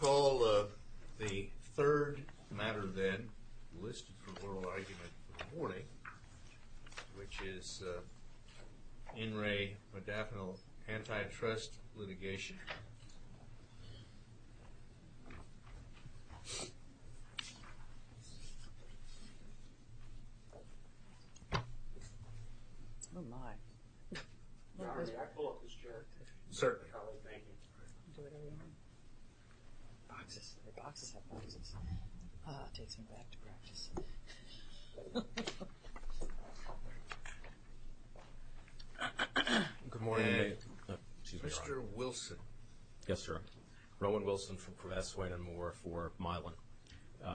I call the third matter then, listed for oral argument for the morning, which is N. Ray Modafinil antitrust litigation. Oh my. Can I pull up this chart? Certainly. Boxes. Boxes have boxes. Takes me back to practice. Good morning. Mr. Wilson. Yes, sir. Rowan Wilson for Swayne and Moore for Milan.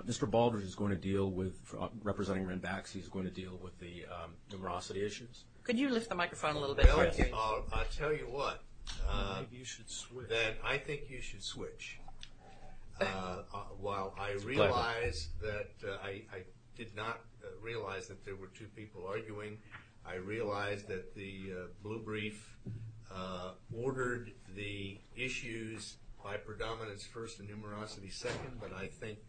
Mr. Baldrige is going to deal with, representing Ranbaxy, is going to deal with the numerosity issues. Could you lift the microphone a little bit? I'll tell you what. You should switch. I think you should switch. While I realize that, I did not realize that there were two people arguing. I realize that the blue brief ordered the issues by predominance first and numerosity second. But I think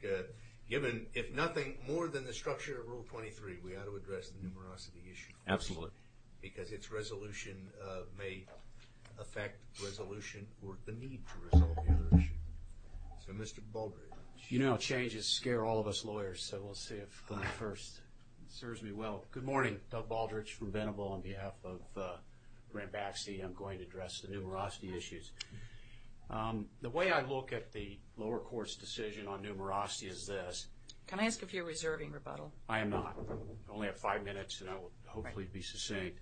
given, if nothing more than the structure of Rule 23, we ought to address the numerosity issue. Absolutely. Because its resolution may affect resolution or the need to resolve the other issue. So Mr. Baldrige. You know changes scare all of us lawyers, so we'll see if the first serves me well. Good morning. Doug Baldrige from Venable on behalf of Ranbaxy. I'm going to address the numerosity issues. The way I look at the lower court's decision on numerosity is this. Can I ask if you're reserving rebuttal? I am not. I only have five minutes and I will hopefully be succinct.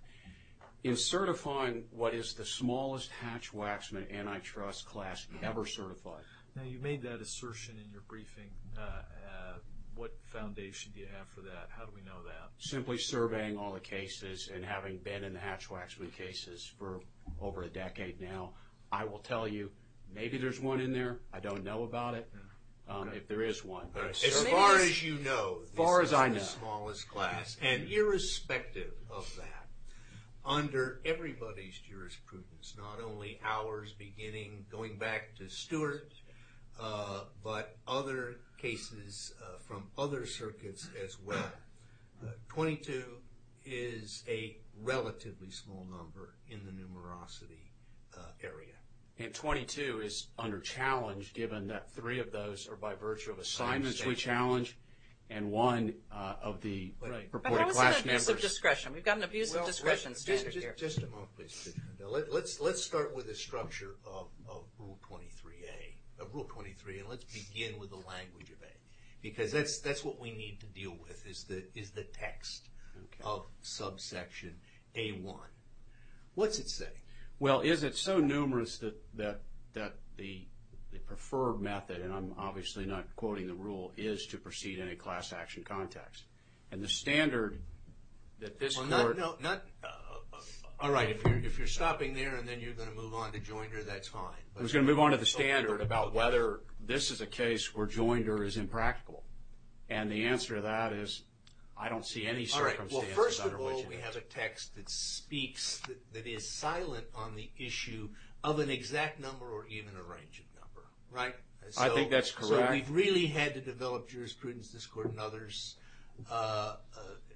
In certifying what is the smallest Hatch-Waxman antitrust class ever certified. Now you made that assertion in your briefing. What foundation do you have for that? How do we know that? Simply surveying all the cases and having been in the Hatch-Waxman cases for over a decade now, I will tell you maybe there's one in there. I don't know about it. If there is one. As far as you know, this is the smallest class. And irrespective of that, under everybody's jurisprudence, not only ours beginning going back to Stewart, but other cases from other circuits as well, 22 is a relatively small number in the numerosity area. And 22 is under challenge given that three of those are by virtue of assignments we challenge and one of the purported class numbers. But how is it abuse of discretion? We've got an abuse of discretion standard here. Just a moment please. Let's start with the structure of Rule 23A. And let's begin with the language of A. Because that's what we need to deal with is the text of subsection A1. What's it say? Well, is it so numerous that the preferred method, and I'm obviously not quoting the rule, is to proceed in a class action context? And the standard that this court... All right. If you're stopping there and then you're going to move on to Joinder, that's fine. I was going to move on to the standard about whether this is a case where Joinder is impractical. And the answer to that is I don't see any circumstances under which... We have a text that speaks, that is silent on the issue of an exact number or even a range of number. Right? I think that's correct. So we've really had to develop jurisprudence this court and others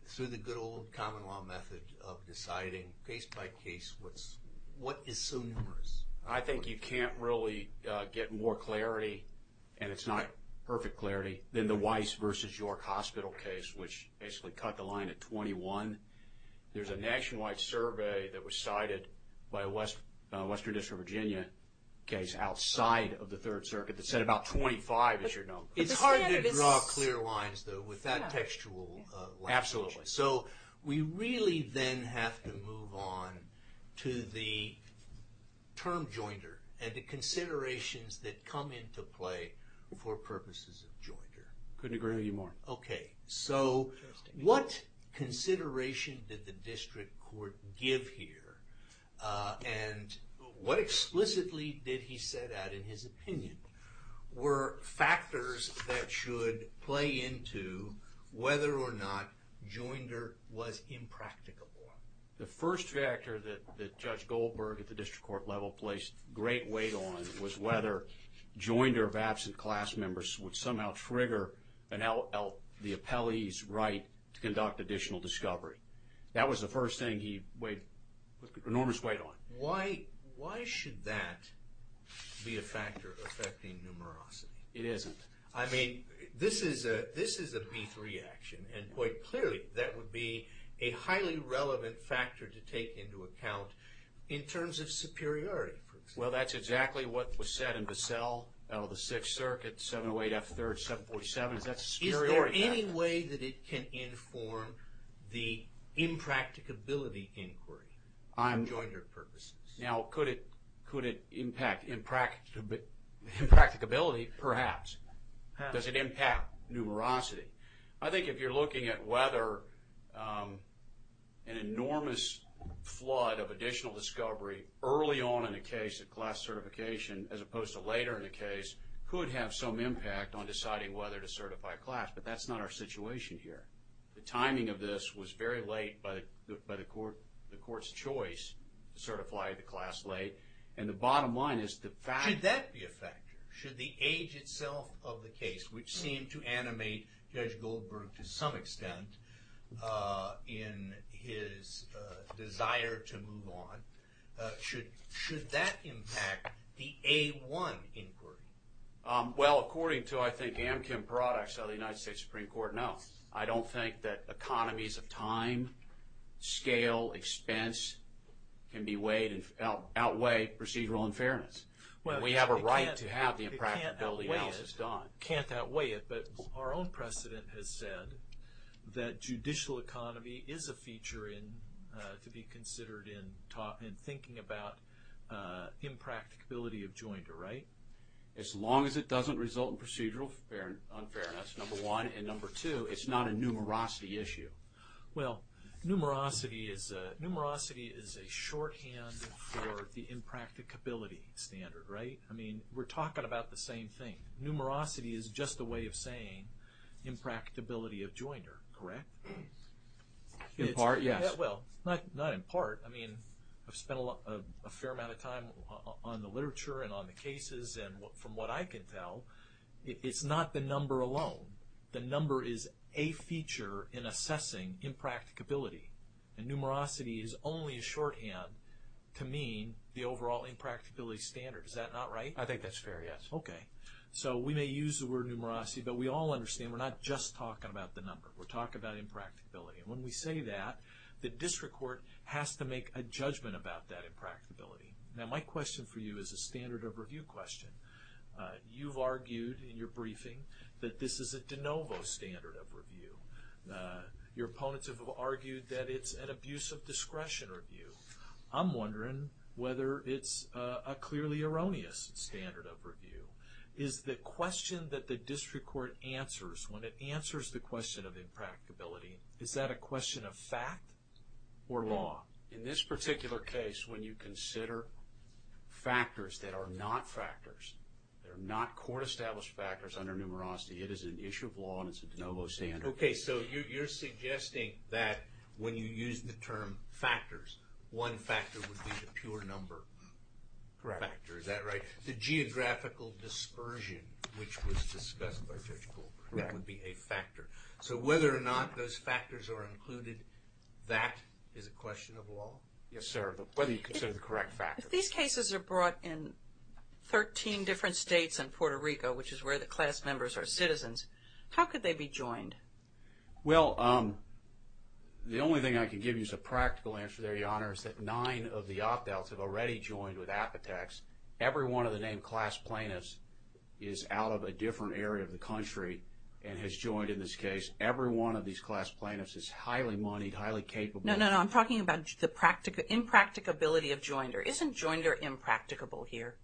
through the good old common law method of deciding case by case what is so numerous. I think you can't really get more clarity, and it's not perfect clarity, than the Weiss versus York Hospital case, which basically cut the line at 21. There's a nationwide survey that was cited by a Western District of Virginia case outside of the Third Circuit that said about 25, as you're known. It's hard to draw clear lines, though, with that textual language. Absolutely. So we really then have to move on to the term Joinder and the considerations that come into play for purposes of Joinder. Couldn't agree with you more. Okay. So what consideration did the district court give here? And what explicitly did he set out in his opinion were factors that should play into whether or not Joinder was impracticable? The first factor that Judge Goldberg at the district court level placed great weight on was whether Joinder of absent class members would somehow trigger the appellee's right to conduct additional discovery. That was the first thing he weighed enormous weight on. Why should that be a factor affecting numerosity? It isn't. I mean, this is a B3 action, and quite clearly that would be a highly relevant factor to take into account in terms of superiority, for example. Well, that's exactly what was said in Bissell out of the Sixth Circuit, 708 F. 3rd, 747. Is that superiority? Is there any way that it can inform the impracticability inquiry for Joinder purposes? Now, could it impact impracticability? Perhaps. Does it impact numerosity? I think if you're looking at whether an enormous flood of additional discovery early on in the case of class certification as opposed to later in the case could have some impact on deciding whether to certify a class, but that's not our situation here. The timing of this was very late by the court's choice to certify the class late, and the bottom line is the fact that- Should that be a factor? Should the age itself of the case, which seemed to animate Judge Goldberg to some extent in his desire to move on, should that impact the A1 inquiry? Well, according to, I think, Amkin products out of the United States Supreme Court, no. I don't think that economies of time, scale, expense can outweigh procedural unfairness. We have a right to have the impracticability analysis done. Can't outweigh it, but our own precedent has said that judicial economy is a feature to be considered in thinking about impracticability of Joinder, right? As long as it doesn't result in procedural unfairness, number one, and number two, it's not a numerosity issue. Well, numerosity is a shorthand for the impracticability standard, right? I mean, we're talking about the same thing. Numerosity is just a way of saying impracticability of Joinder, correct? In part, yes. Well, not in part. I mean, I've spent a fair amount of time on the literature and on the cases, and from what I can tell, it's not the number alone. The number is a feature in assessing impracticability. And numerosity is only a shorthand to mean the overall impracticability standard. Is that not right? I think that's fair, yes. Okay. So we may use the word numerosity, but we all understand we're not just talking about the number. We're talking about impracticability. And when we say that, the district court has to make a judgment about that impracticability. Now, my question for you is a standard of review question. You've argued in your briefing that this is a de novo standard of review. Your opponents have argued that it's an abuse of discretion review. I'm wondering whether it's a clearly erroneous standard of review. Is the question that the district court answers, when it answers the question of impracticability, is that a question of fact or law? In this particular case, when you consider factors that are not factors, they're not court-established factors under numerosity, it is an issue of law and it's a de novo standard. Okay. So you're suggesting that when you use the term factors, one factor would be the pure number factor. Is that right? The geographical dispersion, which was discussed by Judge Goldberg, would be a factor. So whether or not those factors are included, that is a question of law? Yes, sir. Whether you consider the correct factors. If these cases are brought in 13 different states and Puerto Rico, which is where the class members are citizens, how could they be joined? Well, the only thing I can give you as a practical answer there, Your Honor, is that nine of the op-elts have already joined with Apotex. Every one of the named class plaintiffs is out of a different area of the country and has joined in this case. Every one of these class plaintiffs is highly moneyed, highly capable. No, no, no. I'm talking about the impracticability of joinder. Isn't joinder impracticable here?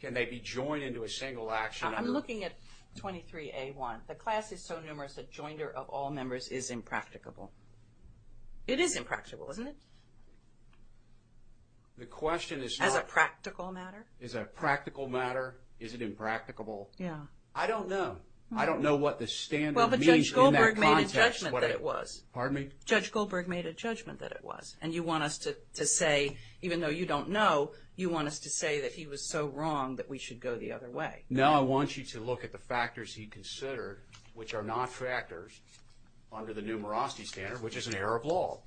Can they be joined into a single action? I'm looking at 23A1. The class is so numerous that joinder of all members is impracticable. It is impracticable, isn't it? The question is not… As a practical matter? As a practical matter, is it impracticable? Yeah. I don't know. I don't know what the standard means in that context. Well, but Judge Goldberg made a judgment that it was. Pardon me? Judge Goldberg made a judgment that it was. And you want us to say, even though you don't know, you want us to say that he was so wrong that we should go the other way. No, I want you to look at the factors he considered, which are not factors under the numerosity standard, which is an error of law.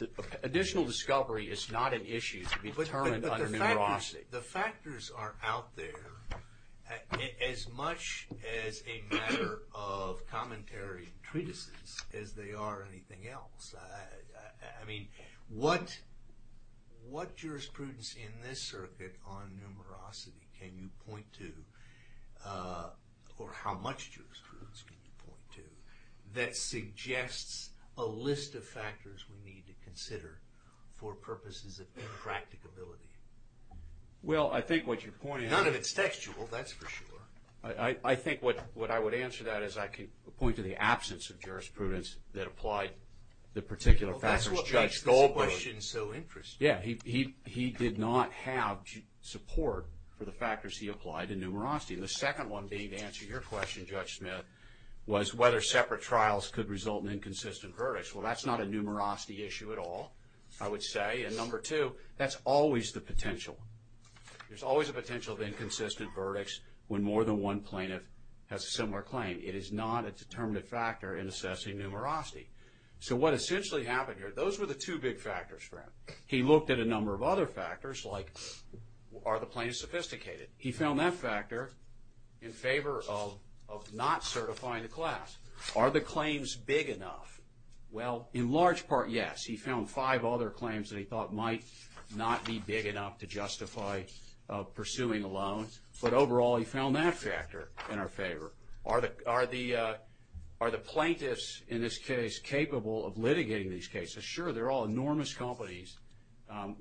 Additional discovery is not an issue to be determined under numerosity. The factors are out there as much as a matter of commentary and treatises as they are anything else. I mean, what jurisprudence in this circuit on numerosity can you point to or how much jurisprudence can you point to that suggests a list of factors we need to consider for purposes of impracticability? Well, I think what you're pointing… None of it's textual, that's for sure. I think what I would answer that is I could point to the absence of jurisprudence that applied the particular factors Judge Goldberg… Well, that's what made Goldberg's question so interesting. Yeah, he did not have support for the factors he applied in numerosity. The second one being to answer your question, Judge Smith, was whether separate trials could result in inconsistent verdicts. Well, that's not a numerosity issue at all, I would say. And number two, that's always the potential. There's always a potential of inconsistent verdicts when more than one plaintiff has a similar claim. It is not a determinative factor in assessing numerosity. So what essentially happened here, those were the two big factors for him. He looked at a number of other factors, like are the plaintiffs sophisticated? He found that factor in favor of not certifying the class. Are the claims big enough? Well, in large part, yes. He found five other claims that he thought might not be big enough to justify pursuing a loan. But overall, he found that factor in our favor. Are the plaintiffs, in this case, capable of litigating these cases? Sure, they're all enormous companies,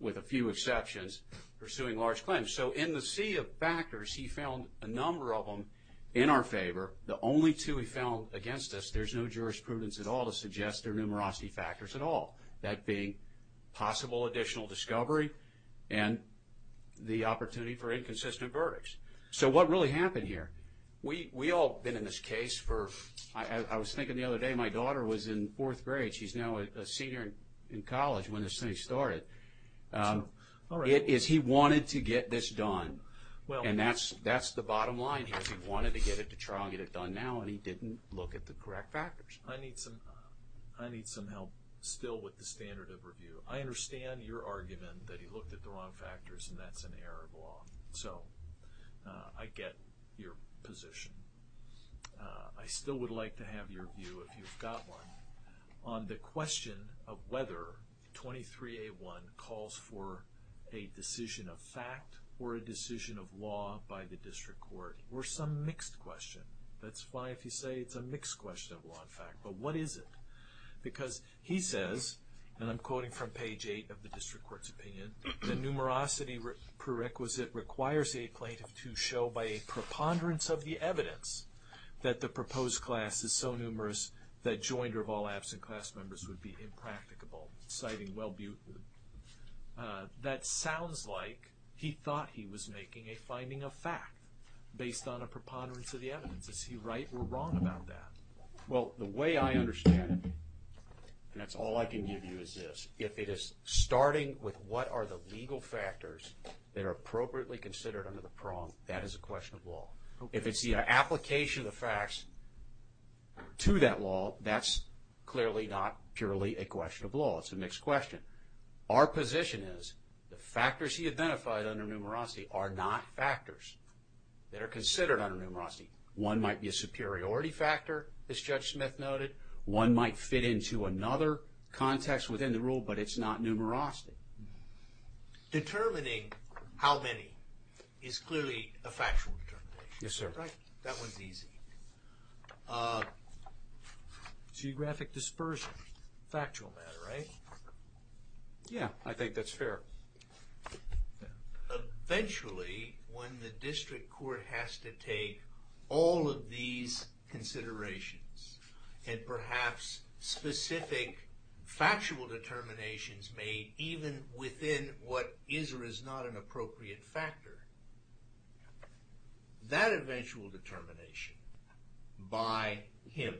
with a few exceptions, pursuing large claims. So in the sea of factors, he found a number of them in our favor. The only two he found against us, there's no jurisprudence at all to suggest they're numerosity factors at all, that being possible additional discovery and the opportunity for inconsistent verdicts. So what really happened here, we all have been in this case for, I was thinking the other day, my daughter was in fourth grade. She's now a senior in college when this thing started. He wanted to get this done, and that's the bottom line. He wanted to get it to trial and get it done now, and he didn't look at the correct factors. I need some help still with the standard of review. I understand your argument that he looked at the wrong factors, and that's an error of law. So I get your position. I still would like to have your view, if you've got one, on the question of whether 23A1 calls for a decision of fact or a decision of law by the district court, or some mixed question. That's fine if you say it's a mixed question of law and fact, but what is it? Because he says, and I'm quoting from page 8 of the district court's opinion, that the numerosity prerequisite requires a plaintiff to show by a preponderance of the evidence that the proposed class is so numerous that joinder of all absent class members would be impracticable, citing Will Buten. That sounds like he thought he was making a finding of fact based on a preponderance of the evidence. Is he right or wrong about that? Well, the way I understand it, and that's all I can give you is this. If it is starting with what are the legal factors that are appropriately considered under the prong, that is a question of law. If it's the application of the facts to that law, that's clearly not purely a question of law. It's a mixed question. Our position is the factors he identified under numerosity are not factors that are considered under numerosity. One might be a superiority factor, as Judge Smith noted. One might fit into another context within the rule, but it's not numerosity. Determining how many is clearly a factual determination. Yes, sir. Right? That one's easy. Geographic dispersion, factual matter, right? Yeah, I think that's fair. Eventually, when the district court has to take all of these considerations, and perhaps specific factual determinations made even within what is or is not an appropriate factor, that eventual determination by him,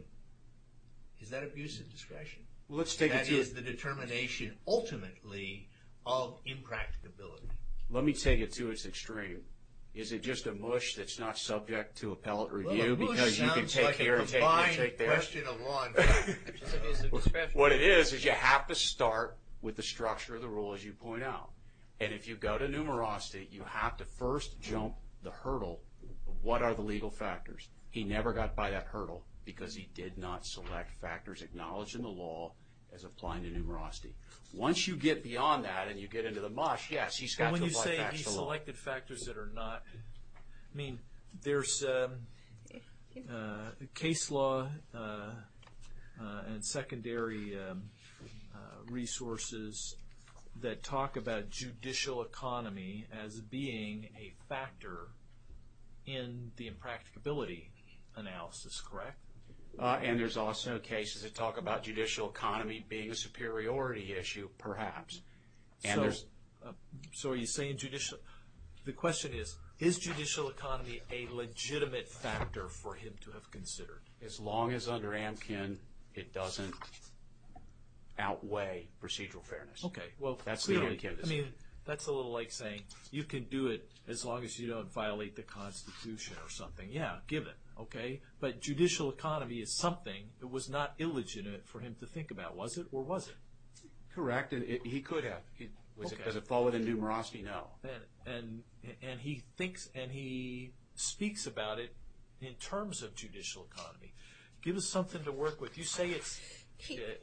is that abuse of discretion? That is the determination, ultimately, of impracticability. Let me take it to its extreme. Is it just a mush that's not subject to appellate review? Well, a mush sounds like a combined question of law and fact. What it is, is you have to start with the structure of the rule, as you point out. And if you go to numerosity, you have to first jump the hurdle of what are the legal factors. He never got by that hurdle because he did not select factors acknowledged in the law as applying to numerosity. Once you get beyond that and you get into the mush, yes, he's got to apply facts to law. When you say he selected factors that are not, I mean, there's case law and secondary resources that talk about judicial economy as being a factor in the impracticability analysis, correct? And there's also cases that talk about judicial economy being a superiority issue, perhaps. So are you saying judicial, the question is, is judicial economy a legitimate factor for him to have considered? As long as under Amkin, it doesn't outweigh procedural fairness. Okay, well, clearly, I mean, that's a little like saying you can do it as long as you don't violate the Constitution or something. Yeah, give it, okay? But judicial economy is something that was not illegitimate for him to think about, was it, or was it? Correct, and he could have. Was it because it followed in numerosity? No. And he thinks and he speaks about it in terms of judicial economy. Give us something to work with. You say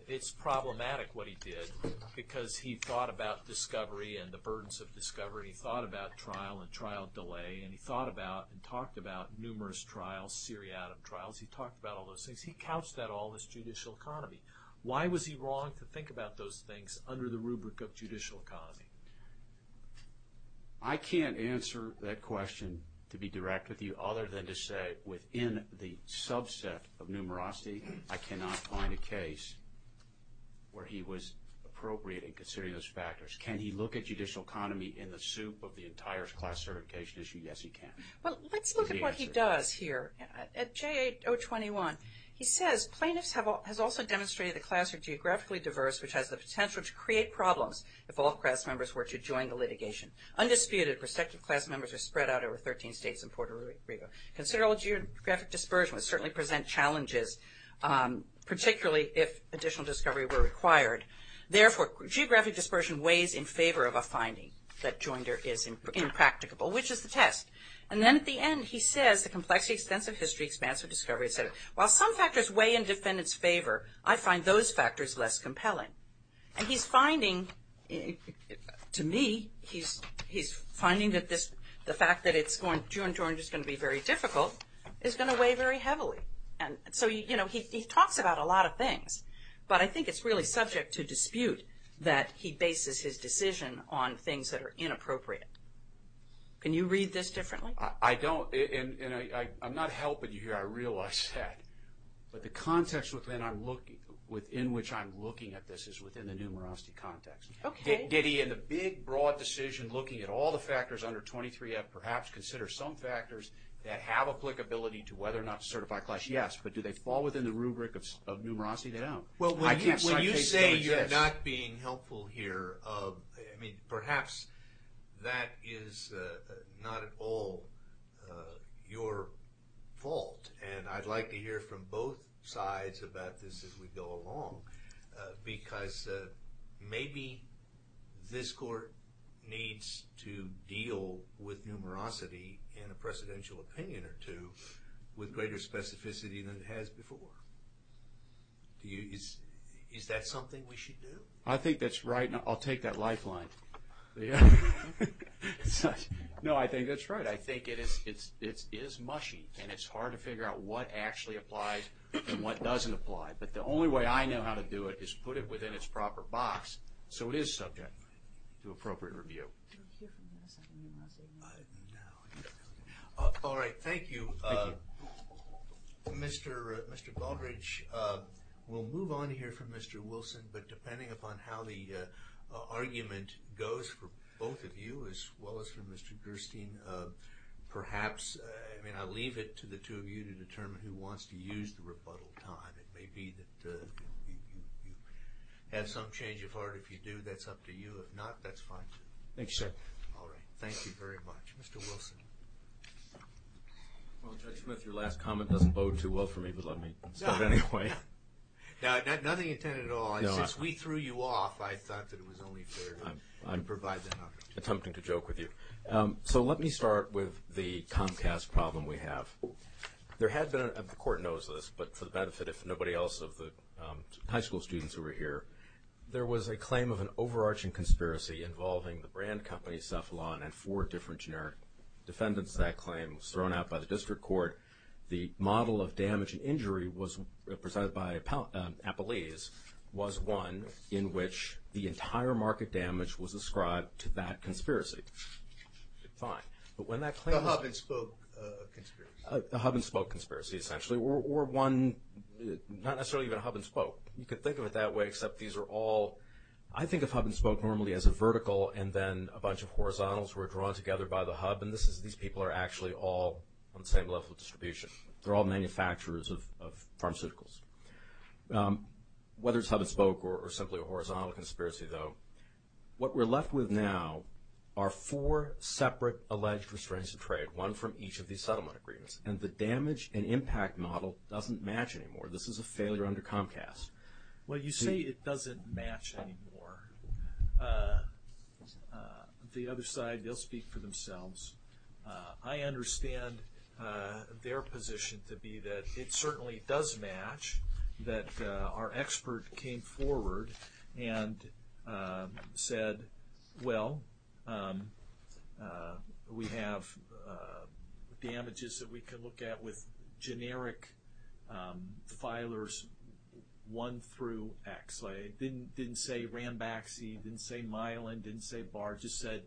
it's problematic what he did because he thought about discovery and the burdens of discovery. He thought about trial and trial delay, and he thought about and talked about numerous trials, seriatim trials. He talked about all those things. He couched that all as judicial economy. Why was he wrong to think about those things under the rubric of judicial economy? I can't answer that question to be direct with you other than to say within the subset of numerosity, I cannot find a case where he was appropriate in considering those factors. Can he look at judicial economy in the soup of the entire class certification issue? Yes, he can. Well, let's look at what he does here. At J8-021, he says, Plaintiffs have also demonstrated the class are geographically diverse, which has the potential to create problems if all class members were to join the litigation. Undisputed, respective class members are spread out over 13 states and Puerto Rico. Considerable geographic dispersion would certainly present challenges, particularly if additional discovery were required. Therefore, geographic dispersion weighs in favor of a finding that joinder is impracticable, which is the test. And then at the end, he says, the complexity, extensive history, expansive discovery, et cetera. While some factors weigh in defendants' favor, I find those factors less compelling. And he's finding, to me, he's finding that the fact that it's going to be very difficult is going to weigh very heavily. And so, you know, he talks about a lot of things, but I think it's really subject to dispute that he bases his decision on things that are inappropriate. Can you read this differently? I don't. And I'm not helping you here, I realize that. But the context within which I'm looking at this is within the numerosity context. Okay. Did he, in the big, broad decision looking at all the factors under 23F, perhaps consider some factors that have applicability to whether or not to certify a class? Yes. But do they fall within the rubric of numerosity? They don't. Well, when you say you're not being helpful here, I mean, perhaps that is not at all your fault. And I'd like to hear from both sides about this as we go along, because maybe this court needs to deal with numerosity in a presidential opinion or two with greater specificity than it has before. Is that something we should do? I think that's right. I'll take that lifeline. No, I think that's right. I think it is mushy, and it's hard to figure out what actually applies and what doesn't apply. But the only way I know how to do it is put it within its proper box so it is subject to appropriate review. All right, thank you. Mr. Baldrige, we'll move on here from Mr. Wilson, but depending upon how the argument goes for both of you as well as for Mr. Gerstein, perhaps, I mean, I'll leave it to the two of you to determine who wants to use the rebuttal time. It may be that you have some change of heart. If you do, that's up to you. If not, that's fine, too. Thank you, sir. All right, thank you very much. Mr. Wilson. Well, Judge Smith, your last comment doesn't bode too well for me, but let me start anyway. No, nothing intended at all. Since we threw you off, I thought that it was only fair to provide that option. I'm attempting to joke with you. So let me start with the Comcast problem we have. There had been, and the Court knows this, but for the benefit of nobody else, of the high school students who were here, there was a claim of an overarching conspiracy involving the brand company Cephalon and four different generic defendants. That claim was thrown out by the district court. The model of damage and injury presided by Appalese was one in which the entire market damage was ascribed to that conspiracy. Fine. But when that claim was – A hub-and-spoke conspiracy. A hub-and-spoke conspiracy, essentially, or one not necessarily even hub-and-spoke. You could think of it that way, except these are all – I think of hub-and-spoke normally as a vertical, and then a bunch of horizontals were drawn together by the hub, and these people are actually all on the same level of distribution. They're all manufacturers of pharmaceuticals. Whether it's hub-and-spoke or simply a horizontal conspiracy, though, what we're left with now are four separate alleged restraints of trade, one from each of these settlement agreements, and the damage and impact model doesn't match anymore. This is a failure under Comcast. Well, you say it doesn't match anymore. The other side, they'll speak for themselves. I understand their position to be that it certainly does match, that our expert came forward and said, well, we have damages that we can look at with generic filers 1 through X. It didn't say Ranbaxy. It didn't say Mylan. It didn't say Barr. It just said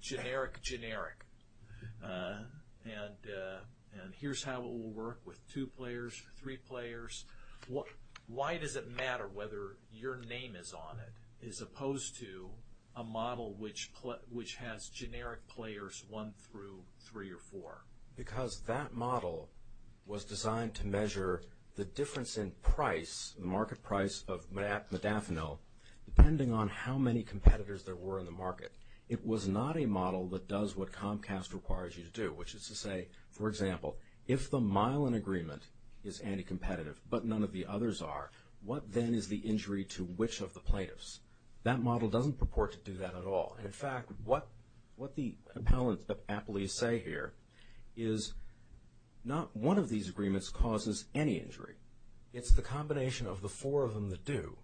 generic, generic, and here's how it will work with two players, three players. Why does it matter whether your name is on it as opposed to a model which has generic players 1 through 3 or 4? Because that model was designed to measure the difference in price, the market price of modafinil, depending on how many competitors there were in the market. It was not a model that does what Comcast requires you to do, which is to say, for example, if the Mylan agreement is anti-competitive but none of the others are, what then is the injury to which of the plaintiffs? That model doesn't purport to do that at all. In fact, what the appellants at Applee say here is not one of these agreements causes any injury. It's the combination of the four of them that do,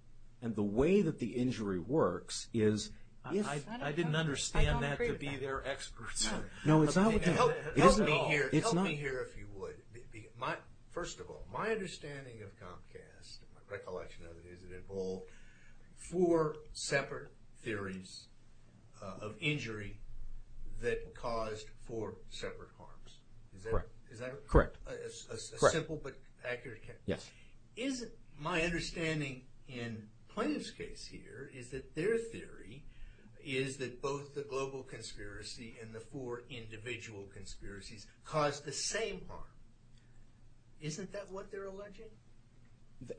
and the way that the injury works is if – I didn't understand that to be their experts. No, it's not what they – Help me here if you would. First of all, my understanding of Comcast, my recollection of it is it involved four separate theories of injury that caused four separate harms. Correct. Is that correct? Correct. A simple but accurate – Yes. My understanding in Plaintiff's case here is that their theory is that both the global conspiracy and the four individual conspiracies caused the same harm. Isn't that what they're alleging?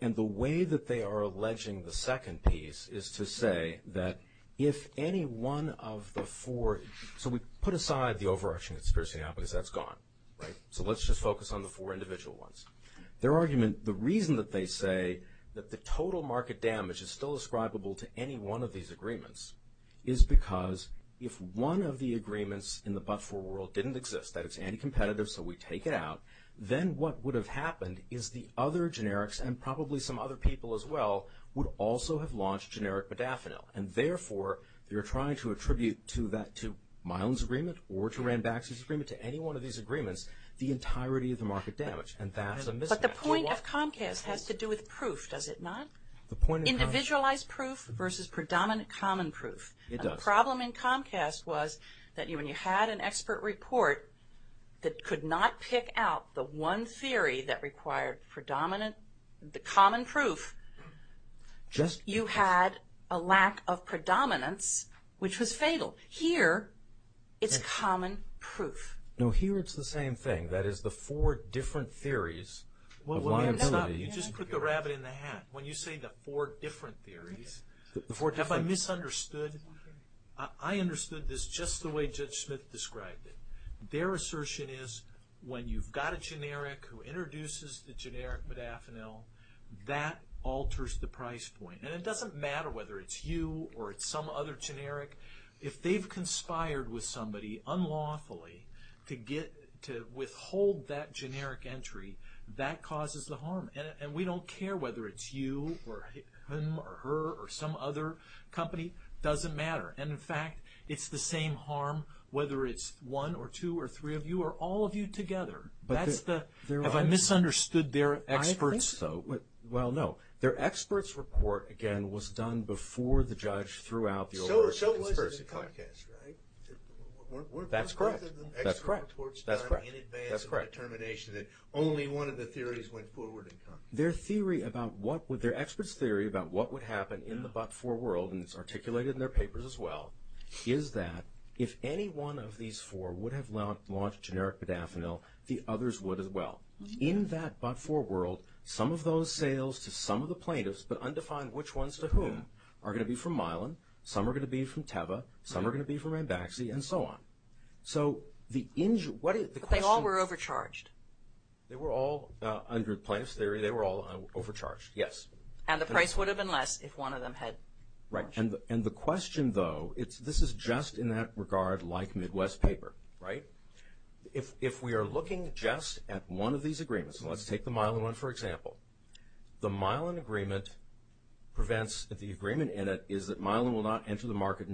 And the way that they are alleging the second piece is to say that if any one of the four – so we put aside the overarching conspiracy now because that's gone, right? So let's just focus on the four individual ones. Their argument, the reason that they say that the total market damage is still ascribable to any one of these agreements is because if one of the agreements in the but-for world didn't exist, that it's anti-competitive so we take it out, then what would have happened is the other generics and probably some other people as well would also have launched generic modafinil. And therefore, they're trying to attribute to Miland's agreement or to Ranbaxy's agreement, to any one of these agreements, the entirety of the market damage. And that's a mismatch. But the point of Comcast has to do with proof, does it not? Individualized proof versus predominant common proof. It does. The problem in Comcast was that when you had an expert report that could not pick out the one theory that required predominant, the common proof, you had a lack of predominance, which was fatal. Here, it's common proof. No, here it's the same thing. That is, the four different theories of liability. Well, stop. You just put the rabbit in the hat. When you say the four different theories, have I misunderstood? I understood this just the way Judge Smith described it. Their assertion is when you've got a generic who introduces the generic modafinil, that alters the price point. And it doesn't matter whether it's you or it's some other generic. If they've conspired with somebody unlawfully to withhold that generic entry, that causes the harm. And we don't care whether it's you or him or her or some other company. It doesn't matter. And, in fact, it's the same harm whether it's one or two or three of you or all of you together. Have I misunderstood their experts, though? I think so. Well, no. Their experts report, again, was done before the judge threw out the overruled conspiracy. So was it in Comcast, right? That's correct. That's correct. That's correct. That's correct. That's correct. That's correct. That's correct. That's correct. That's correct. I just want to make sure that only one of the theories went forward in Comcast. Their experts' theory about what would happen in the but-for world, and it's articulated in their papers as well, is that if any one of these four would have launched generic Bidafinil, the others would as well. In that but-for world, some of those sales to some of the plaintiffs, but undefined which ones to whom, are going to be from Mylan, some are going to be from Teva, some are going to be from Ambaxi, and so on. But they all were overcharged. They were all, under plaintiff's theory, they were all overcharged, yes. And the price would have been less if one of them had charged. And the question, though, this is just in that regard like Midwest paper, right? If we are looking just at one of these agreements, and let's take the Mylan one for example, the Mylan agreement prevents the agreement in it is that Mylan will not enter the market,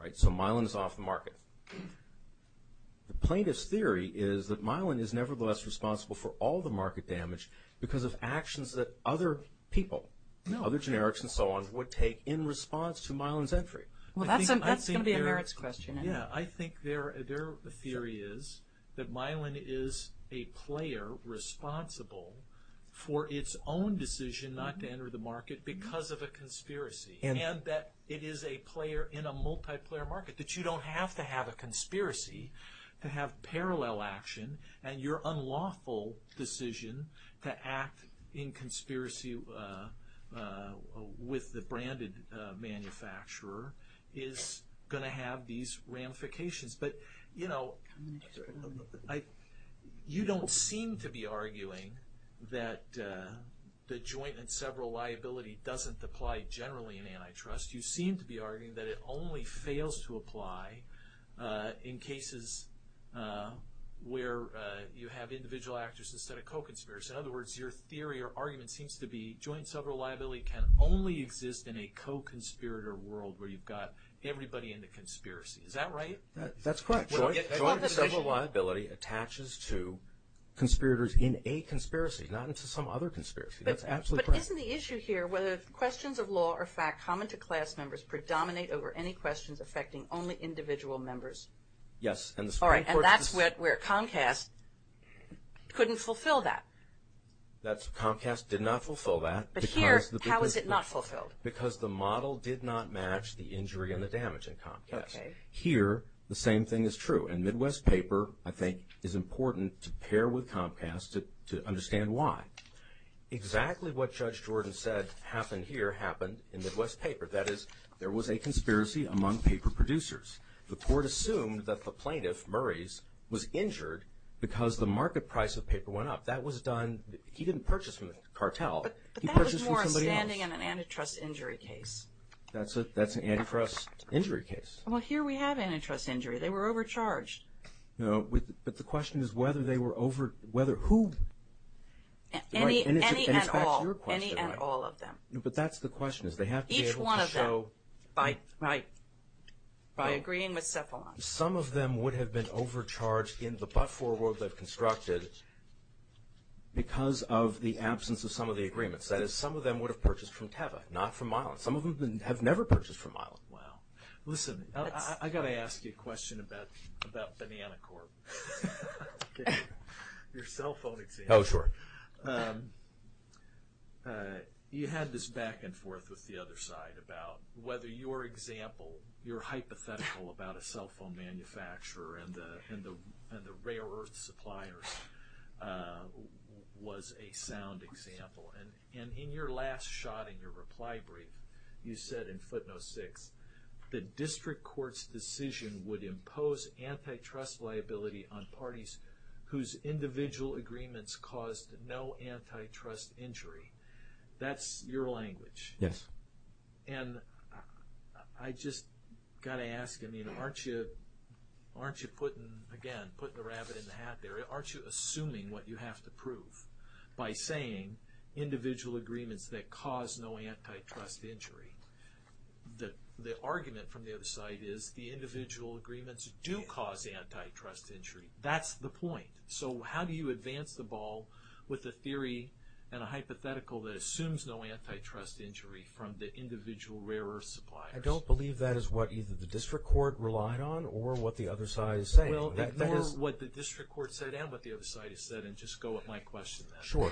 right? So Mylan is off the market. The plaintiff's theory is that Mylan is nevertheless responsible for all the market damage because of actions that other people, other generics and so on, would take in response to Mylan's entry. Well, that's going to be a merits question. Yeah, I think their theory is that Mylan is a player responsible for its own decision not to enter the market because of a conspiracy, and that it is a player in a multiplayer market, that you don't have to have a conspiracy to have parallel action, and your unlawful decision to act in conspiracy with the branded manufacturer is going to have these ramifications. But, you know, you don't seem to be arguing that the joint and several liability doesn't apply generally in antitrust. You seem to be arguing that it only fails to apply in cases where you have individual actors instead of co-conspirators. In other words, your theory or argument seems to be joint and several liability can only exist in a co-conspirator world where you've got everybody in the conspiracy. Is that right? That's correct. Joint and several liability attaches to conspirators in a conspiracy, not into some other conspiracy. That's absolutely correct. But isn't the issue here whether questions of law or fact common to class members predominate over any questions affecting only individual members? Yes. All right, and that's where Comcast couldn't fulfill that. Comcast did not fulfill that. But here, how is it not fulfilled? Because the model did not match the injury and the damage in Comcast. Here, the same thing is true. And Midwest paper, I think, is important to pair with Comcast to understand why. Exactly what Judge Jordan said happened here happened in Midwest paper. That is, there was a conspiracy among paper producers. The court assumed that the plaintiff, Murray's, was injured because the market price of paper went up. That was done – he didn't purchase from the cartel. He purchased from somebody else. But that was more standing in an antitrust injury case. That's an antitrust injury case. Well, here we have antitrust injury. They were overcharged. But the question is whether they were over – whether who? Any at all. And it's back to your question. Any at all of them. But that's the question, is they have to be able to show – Each one of them. Right. By agreeing with Cephalon. Some of them would have been overcharged in the but-for award they've constructed because of the absence of some of the agreements. That is, some of them would have purchased from Teva, not from Milan. Some of them have never purchased from Milan. Wow. Listen, I've got to ask you a question about Banana Corp. Your cell phone example. Oh, sure. You had this back and forth with the other side about whether your example, your hypothetical about a cell phone manufacturer and the rare earth suppliers was a sound example. And in your last shot in your reply brief, you said in footnote six, the district court's decision would impose antitrust liability on parties whose individual agreements caused no antitrust injury. That's your language. Yes. And I just got to ask, I mean, aren't you putting – again, putting the rabbit in the hat there. Aren't you assuming what you have to prove by saying individual agreements that cause no antitrust injury? The argument from the other side is the individual agreements do cause antitrust injury. That's the point. So how do you advance the ball with a theory and a hypothetical that assumes no antitrust injury from the individual rare earth suppliers? I don't believe that is what either the district court relied on or what the other side is saying. Well, ignore what the district court said and what the other side has said and just go with my question then. Sure.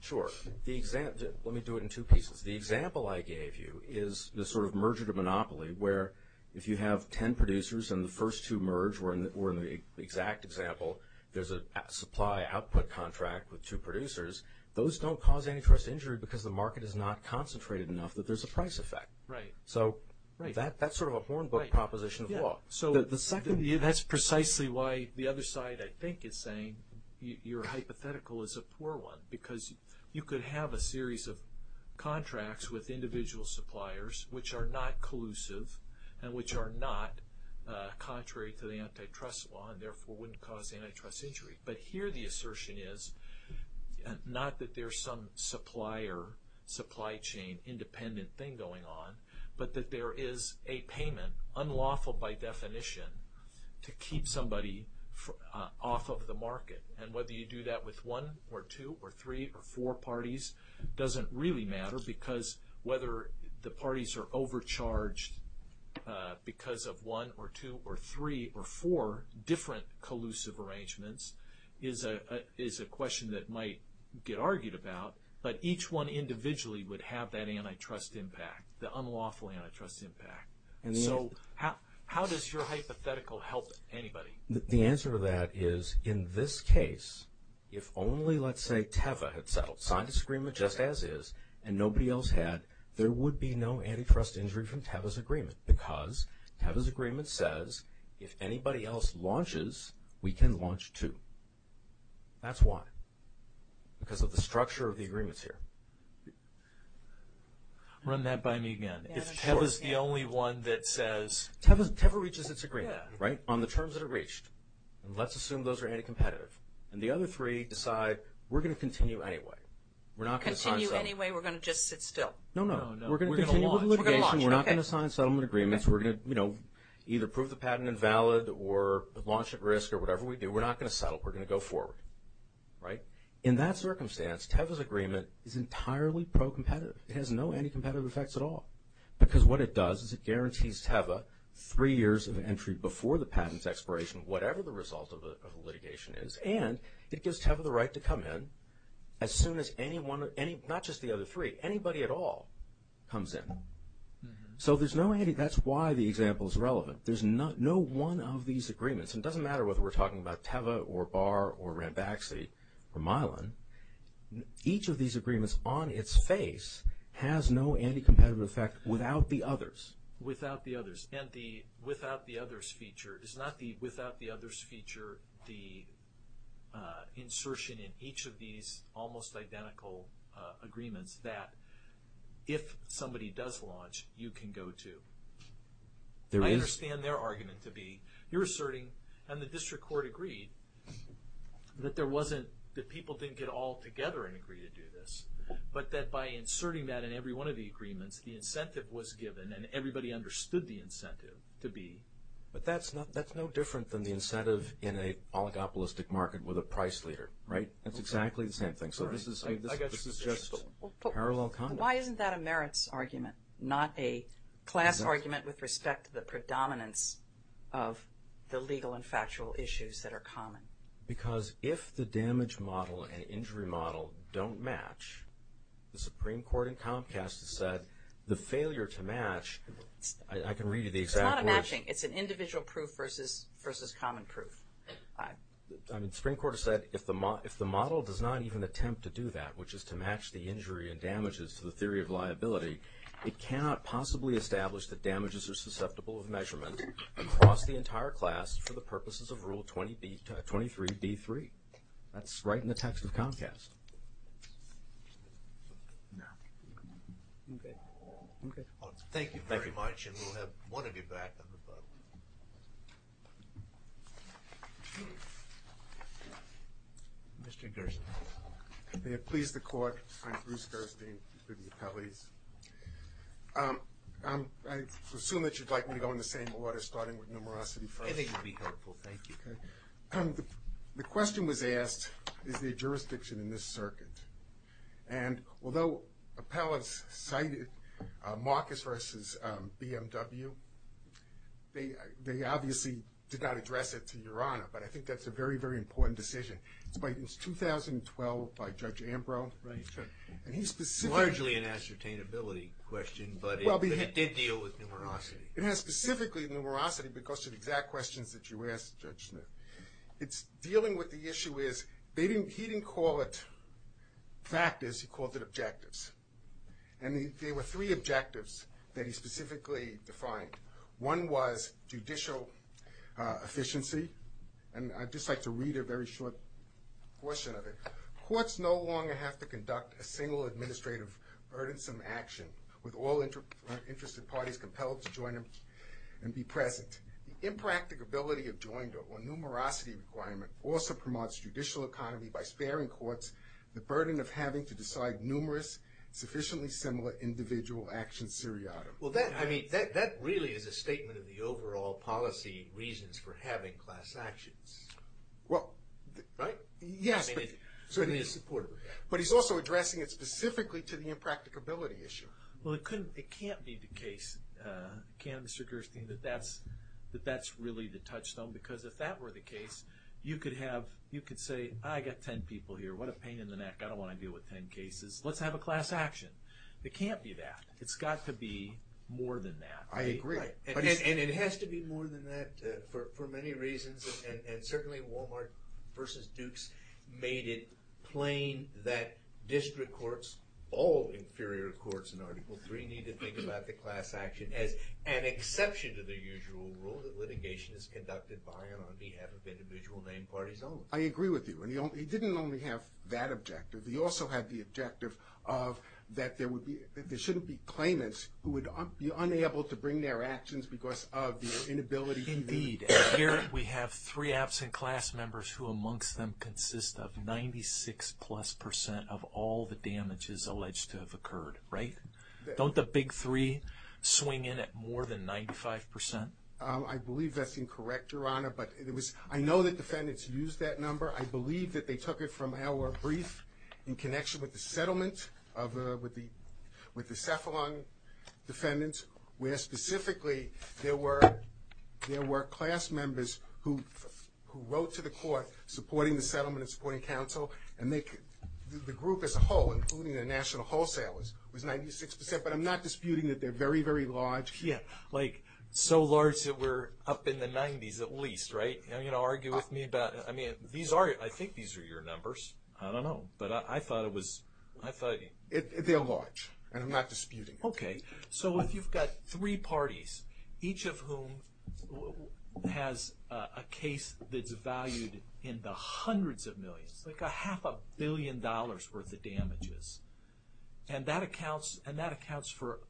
Sure. Let me do it in two pieces. The example I gave you is the sort of merger to monopoly where if you have ten producers and the first two merge, where in the exact example there's a supply-output contract with two producers, those don't cause antitrust injury because the market is not concentrated enough that there's a price effect. Right. So that's sort of a hornbook proposition of law. That's precisely why the other side, I think, is saying your hypothetical is a poor one because you could have a series of contracts with individual suppliers which are not collusive and which are not contrary to the antitrust law and therefore wouldn't cause antitrust injury. But here the assertion is not that there's some supplier supply chain independent thing going on, but that there is a payment, unlawful by definition, to keep somebody off of the market. And whether you do that with one or two or three or four parties doesn't really matter because whether the parties are overcharged because of one or two or three or four different collusive arrangements is a question that might get argued about, but each one individually would have that antitrust impact. The unlawful antitrust impact. And so how does your hypothetical help anybody? The answer to that is in this case, if only, let's say, Teva had signed this agreement just as is and nobody else had, there would be no antitrust injury from Teva's agreement because Teva's agreement says if anybody else launches, we can launch too. That's why. Because of the structure of the agreements here. Run that by me again. If Teva's the only one that says. Teva reaches its agreement, right, on the terms that are reached. And let's assume those are anti-competitive. And the other three decide we're going to continue anyway. We're not going to sign settlement. Continue anyway. We're going to just sit still. No, no. We're going to continue with litigation. We're not going to sign settlement agreements. We're going to, you know, either prove the patent invalid or launch at risk or whatever we do. We're not going to settle. We're going to go forward, right? In that circumstance, Teva's agreement is entirely pro-competitive. It has no anti-competitive effects at all. Because what it does is it guarantees Teva three years of entry before the patent's expiration, whatever the result of the litigation is, and it gives Teva the right to come in as soon as anyone, not just the other three, anybody at all comes in. So there's no, that's why the example is relevant. There's no one of these agreements, and it doesn't matter whether we're talking about Teva or Barr or Ranbaxy or Milan, each of these agreements on its face has no anti-competitive effect without the others. Without the others. And the without the others feature is not the without the others feature, the insertion in each of these almost identical agreements that if somebody does launch, you can go to. I understand their argument to be, you're asserting and the district court agreed that there wasn't, that people didn't get all together and agree to do this, but that by inserting that in every one of the agreements, the incentive was given and everybody understood the incentive to be. But that's no different than the incentive in a oligopolistic market with a price leader, right? That's exactly the same thing. So this is just parallel conduct. Why isn't that a merits argument, not a class argument with respect to the predominance of the legal and factual issues that are common? Because if the damage model and injury model don't match, the Supreme Court in Comcast has said the failure to match, I can read you the example. It's not a matching. It's an individual proof versus common proof. The Supreme Court has said if the model does not even attempt to do that, which is to match the injury and damages to the theory of liability, it cannot possibly establish that damages are susceptible of measurement across the entire class for the purposes of Rule 23B3. That's right in the text of Comcast. Okay. Thank you very much. And we'll have one of you back. Mr. Gerson. May it please the Court, I'm Bruce Gerson with the appellees. I assume that you'd like me to go in the same order starting with numerosity first. I think it would be helpful. Thank you. The question was asked, is there jurisdiction in this circuit? And although appellants cited Marcus versus BMW, they obviously did not address it to Your Honor, but I think that's a very, very important decision. It's 2012 by Judge Ambrose. Right. Largely an ascertainability question, but it did deal with numerosity. It has specifically numerosity because of the exact questions that you asked, Judge Smith. It's dealing with the issue is he didn't call it factors, he called it objectives. And there were three objectives that he specifically defined. One was judicial efficiency, and I'd just like to read a very short portion of it. Courts no longer have to conduct a single administrative burdensome action with all interested parties compelled to join and be present. The impracticability of joinder or numerosity requirement also promotes judicial economy by sparing courts the burden of having to decide numerous sufficiently similar individual action seriatim. Well, that really is a statement of the overall policy reasons for having class actions. Well, right? Yes. So it is supportive. But he's also addressing it specifically to the impracticability issue. Well, it can't be the case, can it, Mr. Gerstein, that that's really the touchstone? Because if that were the case, you could say, I've got 10 people here. What a pain in the neck. I don't want to deal with 10 cases. Let's have a class action. It can't be that. It's got to be more than that. I agree. And it has to be more than that for many reasons, and certainly Walmart versus Dukes made it plain that district courts, all inferior courts in Article III, need to think about the class action as an exception to the usual rule that litigation is conducted by and on behalf of individual named parties only. I agree with you. And he didn't only have that objective. He also had the objective of that there shouldn't be claimants who would be unable to bring their actions because of the inability to lead. Indeed. And here we have three absent class members who, amongst them, consist of 96-plus percent of all the damages alleged to have occurred. Right? Don't the big three swing in at more than 95 percent? I believe that's incorrect, Your Honor. But I know that defendants use that number. I believe that they took it from our brief in connection with the settlement with the Cephalon defendants, where specifically there were class members who wrote to the court supporting the settlement and supporting counsel, and the group as a whole, including the national wholesalers, was 96 percent. But I'm not disputing that they're very, very large. Yeah, like so large that we're up in the 90s at least, right? Are you going to argue with me about it? I think these are your numbers. I don't know, but I thought it was. They're large, and I'm not disputing it. Okay. So if you've got three parties, each of whom has a case that's valued in the hundreds of millions, like a half a billion dollars' worth of damages, and that accounts for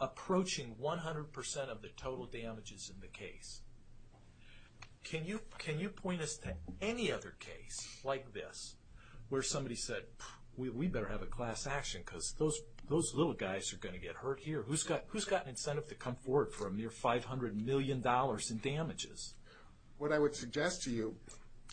approaching 100 percent of the total damages in the case, can you point us to any other case like this where somebody said, we better have a class action because those little guys are going to get hurt here? Who's got an incentive to come forward for a mere $500 million in damages? What I would suggest to you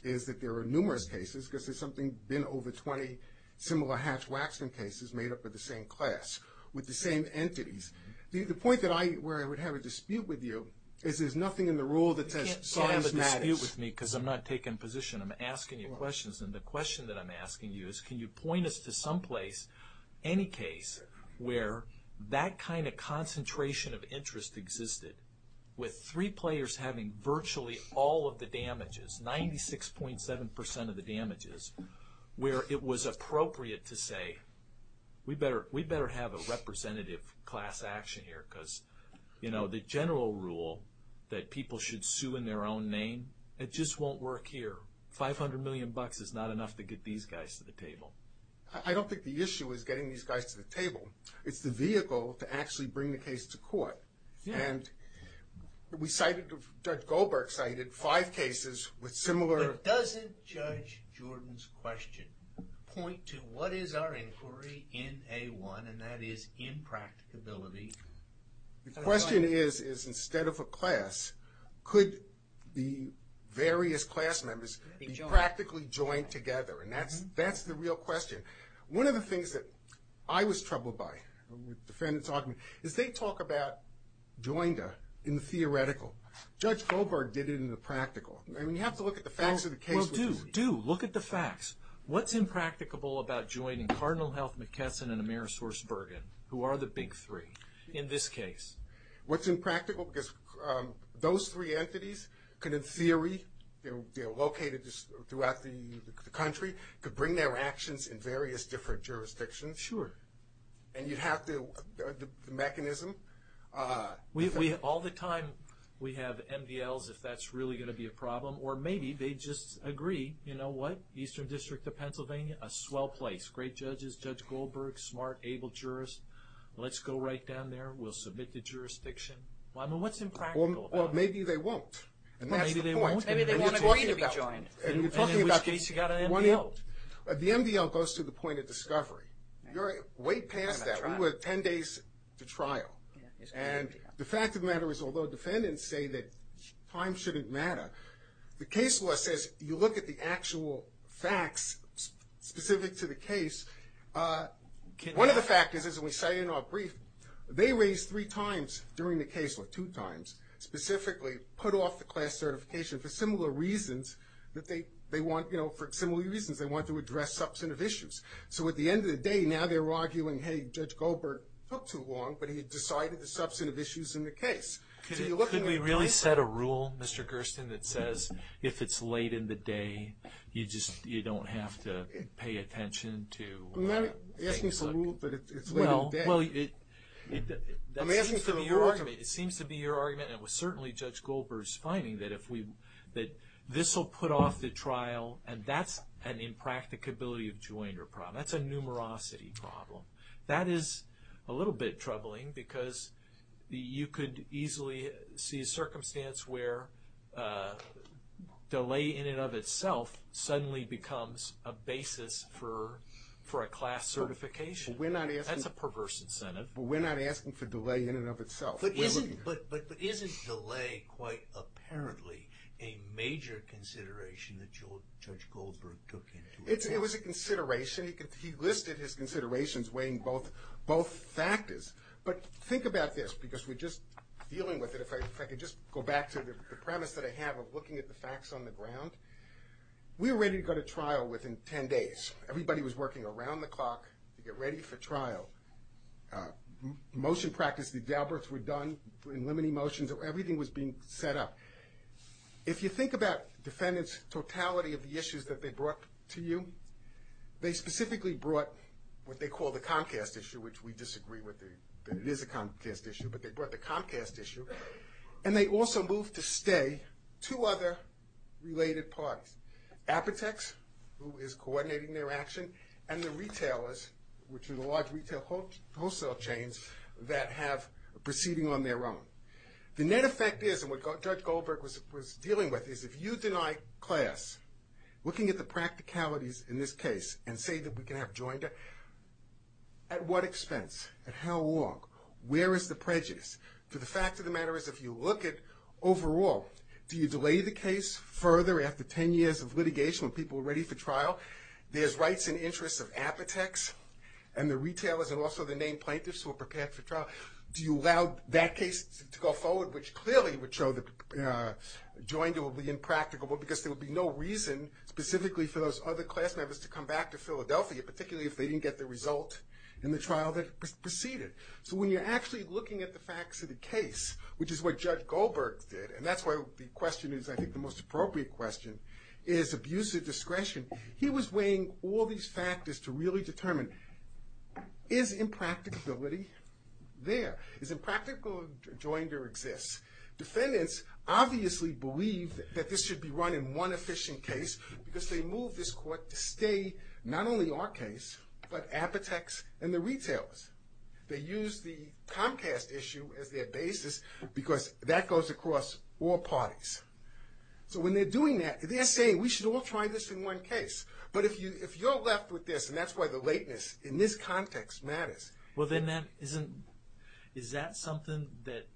is that there are numerous cases, because there's something been over 20 similar Hatch-Waxman cases made up of the same class with the same entities. The point where I would have a dispute with you is there's nothing in the rule that says science matters. You can't have a dispute with me because I'm not taking a position. I'm asking you questions, and the question that I'm asking you is, can you point us to someplace, any case, where that kind of concentration of interest existed with three players having virtually all of the damages, 96.7 percent of the damages, where it was appropriate to say, we'd better have a representative class action here because the general rule that people should sue in their own name, it just won't work here. $500 million is not enough to get these guys to the table. I don't think the issue is getting these guys to the table. It's the vehicle to actually bring the case to court. We cited, Judge Goldberg cited, five cases with similar... But doesn't Judge Jordan's question point to what is our inquiry in A1, and that is impracticability? The question is, instead of a class, could the various class members be practically joined together, and that's the real question. One of the things that I was troubled by, is they talk about joined in the theoretical. Judge Goldberg did it in the practical. You have to look at the facts of the case. Do, look at the facts. What's impracticable about joining Cardinal Health, McKesson, and Amerisource Bergen, who are the big three, in this case? What's impractical, because those three entities could, in theory, they're located throughout the country, could bring their actions in various different jurisdictions. Sure. And you'd have to, the mechanism... We, all the time, we have MDLs, if that's really going to be a problem, or maybe they just agree, you know what, Eastern District of Pennsylvania, a swell place. Great judges, Judge Goldberg, smart, able jurists. Let's go right down there. We'll submit the jurisdiction. I mean, what's impractical about it? Well, maybe they won't, and that's the point. Maybe they won't agree to be joined. And in which case you've got an MDL. The MDL goes to the point of discovery. You're way past that. We were 10 days to trial. And the fact of the matter is, although defendants say that time shouldn't matter, the case law says you look at the actual facts specific to the case. One of the factors is, and we say in our brief, they raised three times during the case, or two times, specifically put off the class certification for similar reasons that they want, you know, for similar reasons, they want to address substantive issues. So at the end of the day, now they're arguing, hey, Judge Goldberg took too long, but he decided the substantive issues in the case. Could we really set a rule, Mr. Gersten, that says if it's late in the day, you just don't have to pay attention to things like that? I'm not asking for a rule, but it's late in the day. Well, it seems to be your argument, and it was certainly Judge Goldberg's finding, that this will put off the trial, and that's an impracticability of joinder problem. That's a numerosity problem. That is a little bit troubling because you could easily see a circumstance where delay in and of itself suddenly becomes a basis for a class certification. That's a perverse incentive. But we're not asking for delay in and of itself. But isn't delay quite apparently a major consideration that Judge Goldberg took into account? It was a consideration. He listed his considerations weighing both factors. But think about this, because we're just dealing with it. If I could just go back to the premise that I have of looking at the facts on the ground. We were ready to go to trial within 10 days. Everybody was working around the clock to get ready for trial. Motion practice, the gabbers were done in limiting motions. Everything was being set up. If you think about defendants' totality of the issues that they brought to you, they specifically brought what they call the Comcast issue, which we disagree that it is a Comcast issue, but they brought the Comcast issue. And they also moved to stay two other related parties, Apotex, who is coordinating their action, and the retailers, which are the large retail wholesale chains that have proceeding on their own. The net effect is, and what Judge Goldberg was dealing with, is if you deny class, looking at the practicalities in this case, and say that we can have joinder, at what expense? At how long? Where is the prejudice? To the fact of the matter is if you look at overall, do you delay the case further after 10 years of litigation when people are ready for trial? There's rights and interests of Apotex, and the retailers, and also the named plaintiffs who are prepared for trial. Do you allow that case to go forward, which clearly would show that joinder would be impractical, because there would be no reason specifically for those other class members to come back to Philadelphia, particularly if they didn't get the result in the trial that preceded. So when you're actually looking at the facts of the case, which is what Judge Goldberg did, and that's why the question is I think the most appropriate question, is abuse of discretion. He was weighing all these factors to really determine, is impracticability there? Is impractical joinder exists? Defendants obviously believe that this should be run in one efficient case, because they move this court to stay not only our case, but Apotex and the retailers. They use the Comcast issue as their basis, because that goes across all parties. So when they're doing that, they're saying we should all try this in one case. But if you're left with this, and that's why the lateness in this context matters. Well then is that something that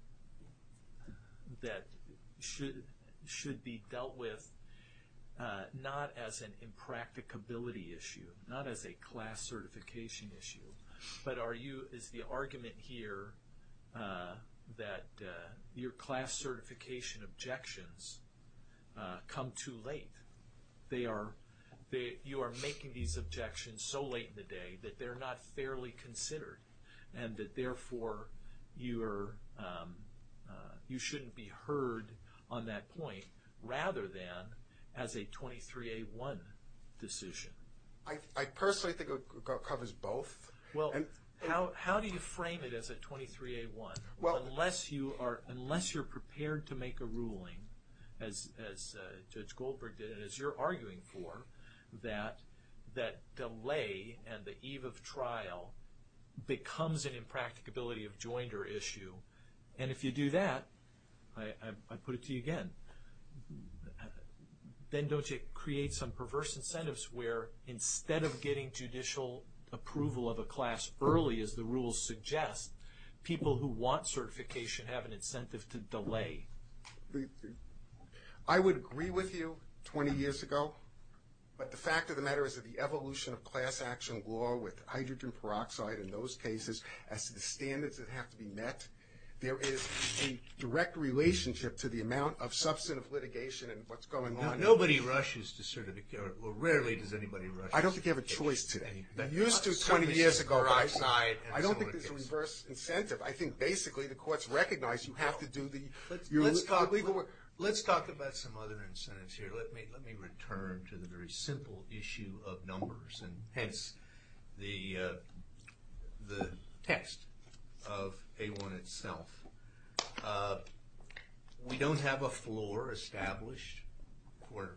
should be dealt with not as an impracticability issue, not as a class certification issue, but is the argument here that your class certification objections come too late? You are making these objections so late in the day that they're not fairly considered, and that therefore you shouldn't be heard on that point, rather than as a 23A1 decision? I personally think it covers both. Well, how do you frame it as a 23A1? Unless you're prepared to make a ruling, as Judge Goldberg did, and as you're arguing for, that delay and the eve of trial becomes an impracticability of joinder issue. And if you do that, I put it to you again, then don't you create some perverse incentives where instead of getting judicial approval of a class early, as the rules suggest, people who want certification have an incentive to delay? I would agree with you 20 years ago, but the fact of the matter is that the evolution of class action law with hydrogen peroxide in those cases, as to the standards that have to be met, there is a direct relationship to the amount of substantive litigation and what's going on. Nobody rushes to certification, or rarely does anybody rush. I don't think you have a choice today. You used to 20 years ago. I don't think there's a reverse incentive. I think basically the courts recognize you have to do the legal work. Let's talk about some other incentives here. Let me return to the very simple issue of numbers, and hence the text of A1 itself. We don't have a floor established where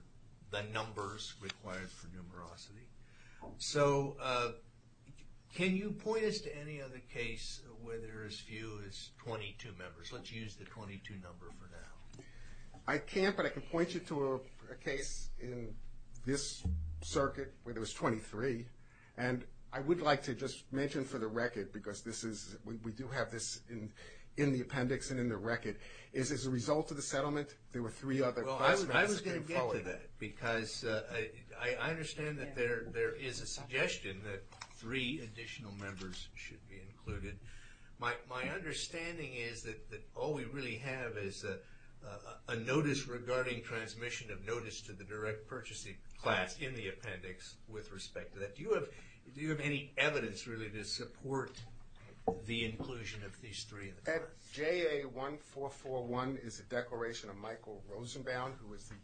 the numbers required for numerosity. So can you point us to any other case where there is few as 22 members? Let's use the 22 number for now. I can't, but I can point you to a case in this circuit where there was 23, and I would like to just mention for the record, because we do have this in the appendix and in the record, is as a result of the settlement there were three other class members. I was going to get to that, because I understand that there is a suggestion that three additional members should be included. My understanding is that all we really have is a notice regarding transmission of notice to the direct purchasing class in the appendix with respect to that. Do you have any evidence really to support the inclusion of these three? At JA1441 is a declaration of Michael Rosenbaum, who is the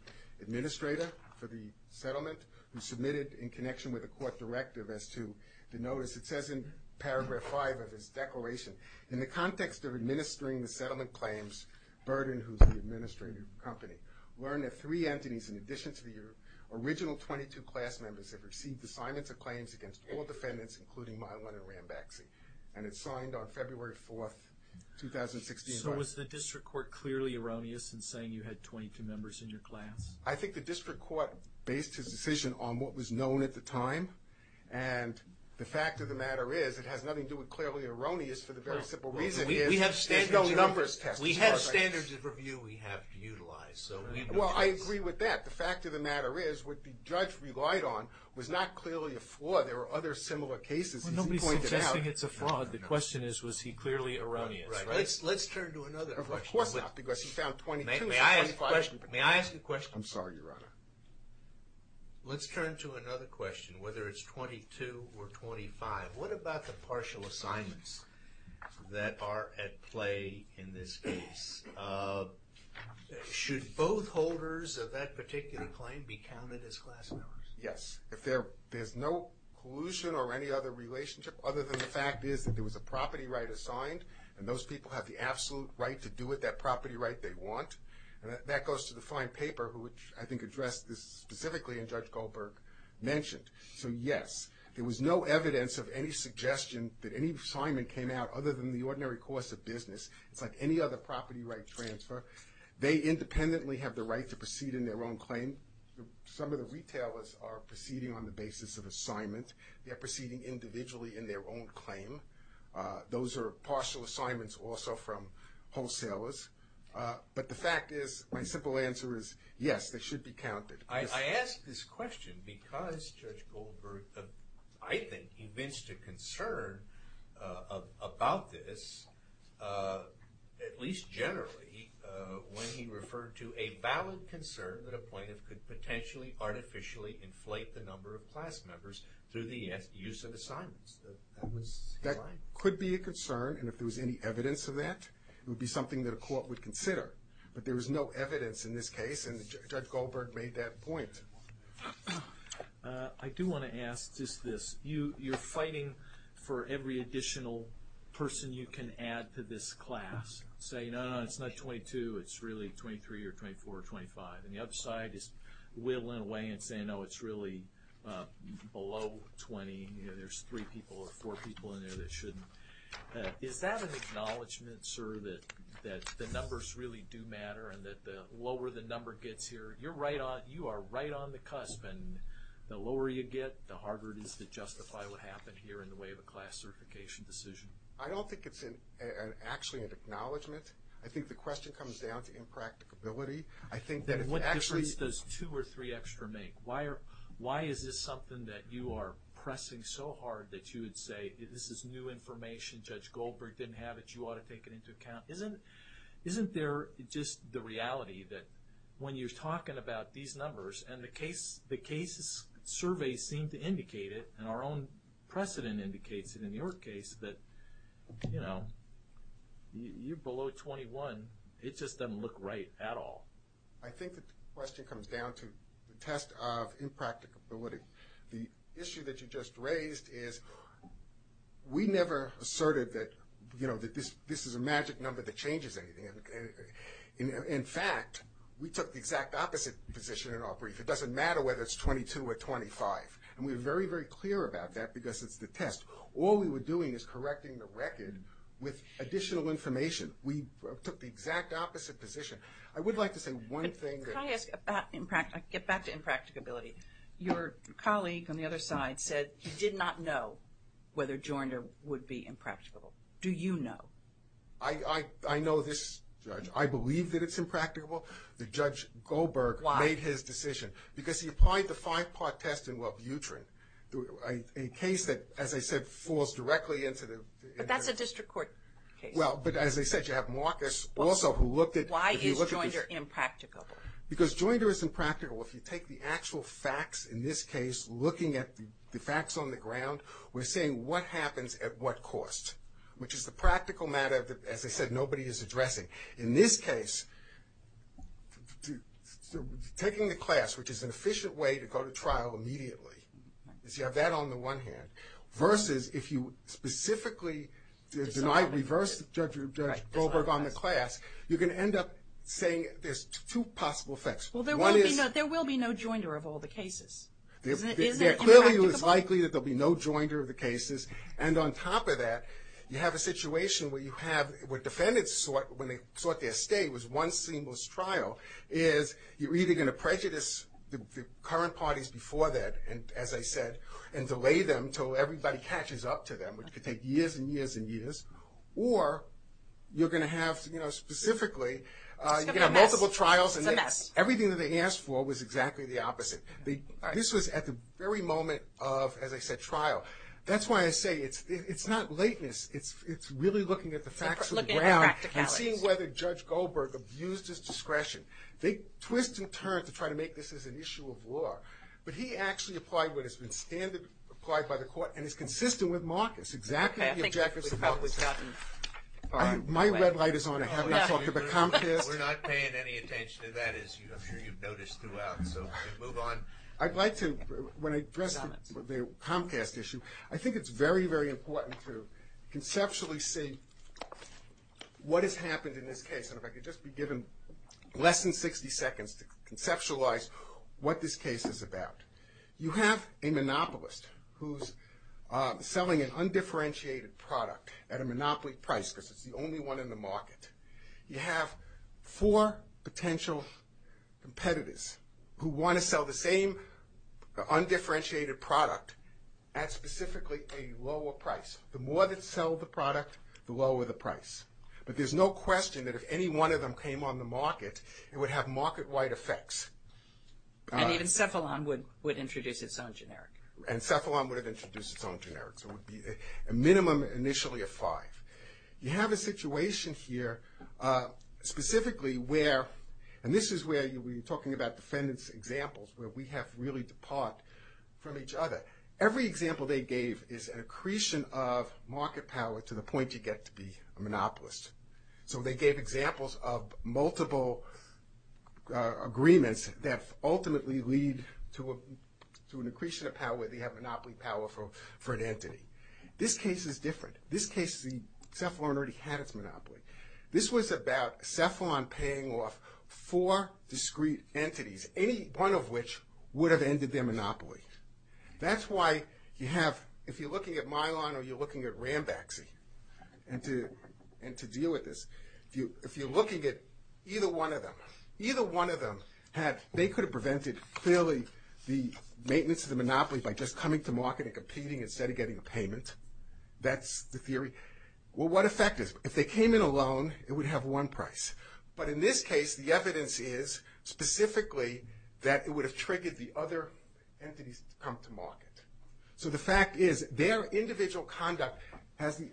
administrator for the settlement, who submitted in connection with a court directive as to the notice. It says in paragraph 5 of his declaration, in the context of administering the settlement claims, Burden, who is the administrator of the company, learned that three entities in addition to the original 22 class members have received assignments of claims against all defendants, including Milon and Rambaxy. And it's signed on February 4, 2016. So was the district court clearly erroneous in saying you had 22 members in your class? I think the district court based his decision on what was known at the time, and the fact of the matter is it has nothing to do with clearly erroneous for the very simple reason is there's no numbers test. We have standards of review we have to utilize. Well, I agree with that. The fact of the matter is what the judge relied on was not clearly a flaw. There were other similar cases he pointed out. Well, nobody's suggesting it's a flaw. The question is was he clearly erroneous. Let's turn to another question. Of course not, because he found 22. May I ask a question? I'm sorry, Your Honor. Let's turn to another question, whether it's 22 or 25. What about the partial assignments that are at play in this case? Should both holders of that particular claim be counted as class members? Yes, if there's no collusion or any other relationship other than the fact is that there was a property right assigned and those people have the absolute right to do with that property right they want. That goes to the fine paper, which I think addressed this specifically and Judge Goldberg mentioned. So yes, there was no evidence of any suggestion that any assignment came out other than the ordinary course of business. It's like any other property right transfer. They independently have the right to proceed in their own claim. Some of the retailers are proceeding on the basis of assignment. They're proceeding individually in their own claim. Those are partial assignments also from wholesalers. But the fact is, my simple answer is yes, they should be counted. I ask this question because Judge Goldberg, I think, evinced a concern about this at least generally when he referred to a valid concern that a plaintiff could potentially artificially inflate the number of class members through the use of assignments. That could be a concern and if there was any evidence of that it would be something that a court would consider. But there was no evidence in this case and Judge Goldberg made that point. I do want to ask just this. You're fighting for every additional person you can add to this class. Say, no, no, it's not 22, it's really 23 or 24 or 25. And the other side is whittling away and saying, no, it's really below 20. There's three people or four people in there that shouldn't. Is that an acknowledgement, sir, that the numbers really do matter and that the lower the number gets here, you are right on the cusp and the lower you get, the harder it is to justify what happened here in the way of a class certification decision. I don't think it's actually an acknowledgement. I think the question comes down to impracticability. What difference does two or three extra make? Why is this something that you are pressing so hard that you would say this is new information, Judge Goldberg didn't have it, you ought to take it into account. Isn't there just the reality that when you're talking about these numbers and the case surveys seem to indicate it and our own precedent indicates it in your case that you're below 21, it just doesn't look right at all. I think the question comes down to the test of impracticability. The issue that you just raised is we never asserted that this is a magic number that changes anything. In fact, we took the exact opposite position in our brief. It doesn't matter whether it's 22 or 25. And we were very, very clear about that because it's the test. All we were doing is correcting the record with additional information. We took the exact opposite position. I would like to say one thing. Can I ask about impracticability? Your colleague on the other side said he did not know whether Joyner would be impracticable. Do you know? I know this, Judge. I believe that it's impracticable. The Judge Goldberg made his decision. Why? Because he applied the five-part test in Labutrin, a case that, as I said, falls directly into the... But that's a district court case. Well, but as I said, you have Marcus also who looked at... Why is Joyner impracticable? Because Joyner is impractical if you take the actual facts in this case, looking at the facts on the ground. We're saying what happens at what cost, which is the practical matter that, as I said, nobody is addressing. In this case, taking the class, which is an efficient way to go to trial immediately, is you have that on the one hand, versus if you specifically deny, reverse Judge Goldberg on the class, you're going to end up saying there's two possible effects. Well, there will be no Joyner of all the cases. Is it impracticable? Clearly, it's likely that there'll be no Joyner of the cases. And on top of that, you have a situation where defendants, when they sought their stay, was one seamless trial, is you're either going to prejudice the current parties before that, as I said, and delay them until everybody catches up to them, which could take years and years and years, or you're going to have, specifically... It's going to be a mess. You're going to have multiple trials. It's a mess. Everything that they asked for was exactly the opposite. This was at the very moment of, as I said, trial. That's why I say it's not lateness. It's really looking at the facts of the ground... Looking at the practicalities. ...and seeing whether Judge Goldberg abused his discretion. They twist and turn to try to make this as an issue of law, but he actually applied what has been standard, applied by the court, and is consistent with Marcus, exactly the objectives of Marcus. Okay, I think we've probably gotten... My red light is on. I haven't talked about Comcast. We're not paying any attention to that, as I'm sure you've noticed throughout, so move on. I'd like to, when I address the Comcast issue, I think it's very, very important to conceptually see what has happened in this case, and if I could just be given less than 60 seconds to conceptualize what this case is about. You have a monopolist who's selling an undifferentiated product at a monopoly price because it's the only one in the market. You have four potential competitors who want to sell the same undifferentiated product at specifically a lower price. The more that sell the product, the lower the price, but there's no question that if any one of them came on the market, it would have market-wide effects. And even Cephalon would introduce its own generic. And Cephalon would have introduced its own generic, so it would be a minimum initially of five. You have a situation here specifically where, and this is where we're talking about defendant's examples where we have to really depart from each other. Every example they gave is an accretion of market power to the point you get to be a monopolist. So they gave examples of multiple agreements that ultimately lead to an accretion of power where they have monopoly power for an entity. This case is different. This case, Cephalon already had its monopoly. This was about Cephalon paying off four discrete entities, any one of which would have ended their monopoly. That's why you have, if you're looking at Mylon or you're looking at Rambaxy, and to deal with this, if you're looking at either one of them, either one of them had, they could have prevented clearly the maintenance of the monopoly by just coming to market and competing instead of getting a payment. That's the theory. Well, what effect is it? If they came in alone, it would have one price. But in this case, the evidence is specifically that it would have triggered the other entities to come to market. So the fact is, their individual conduct has the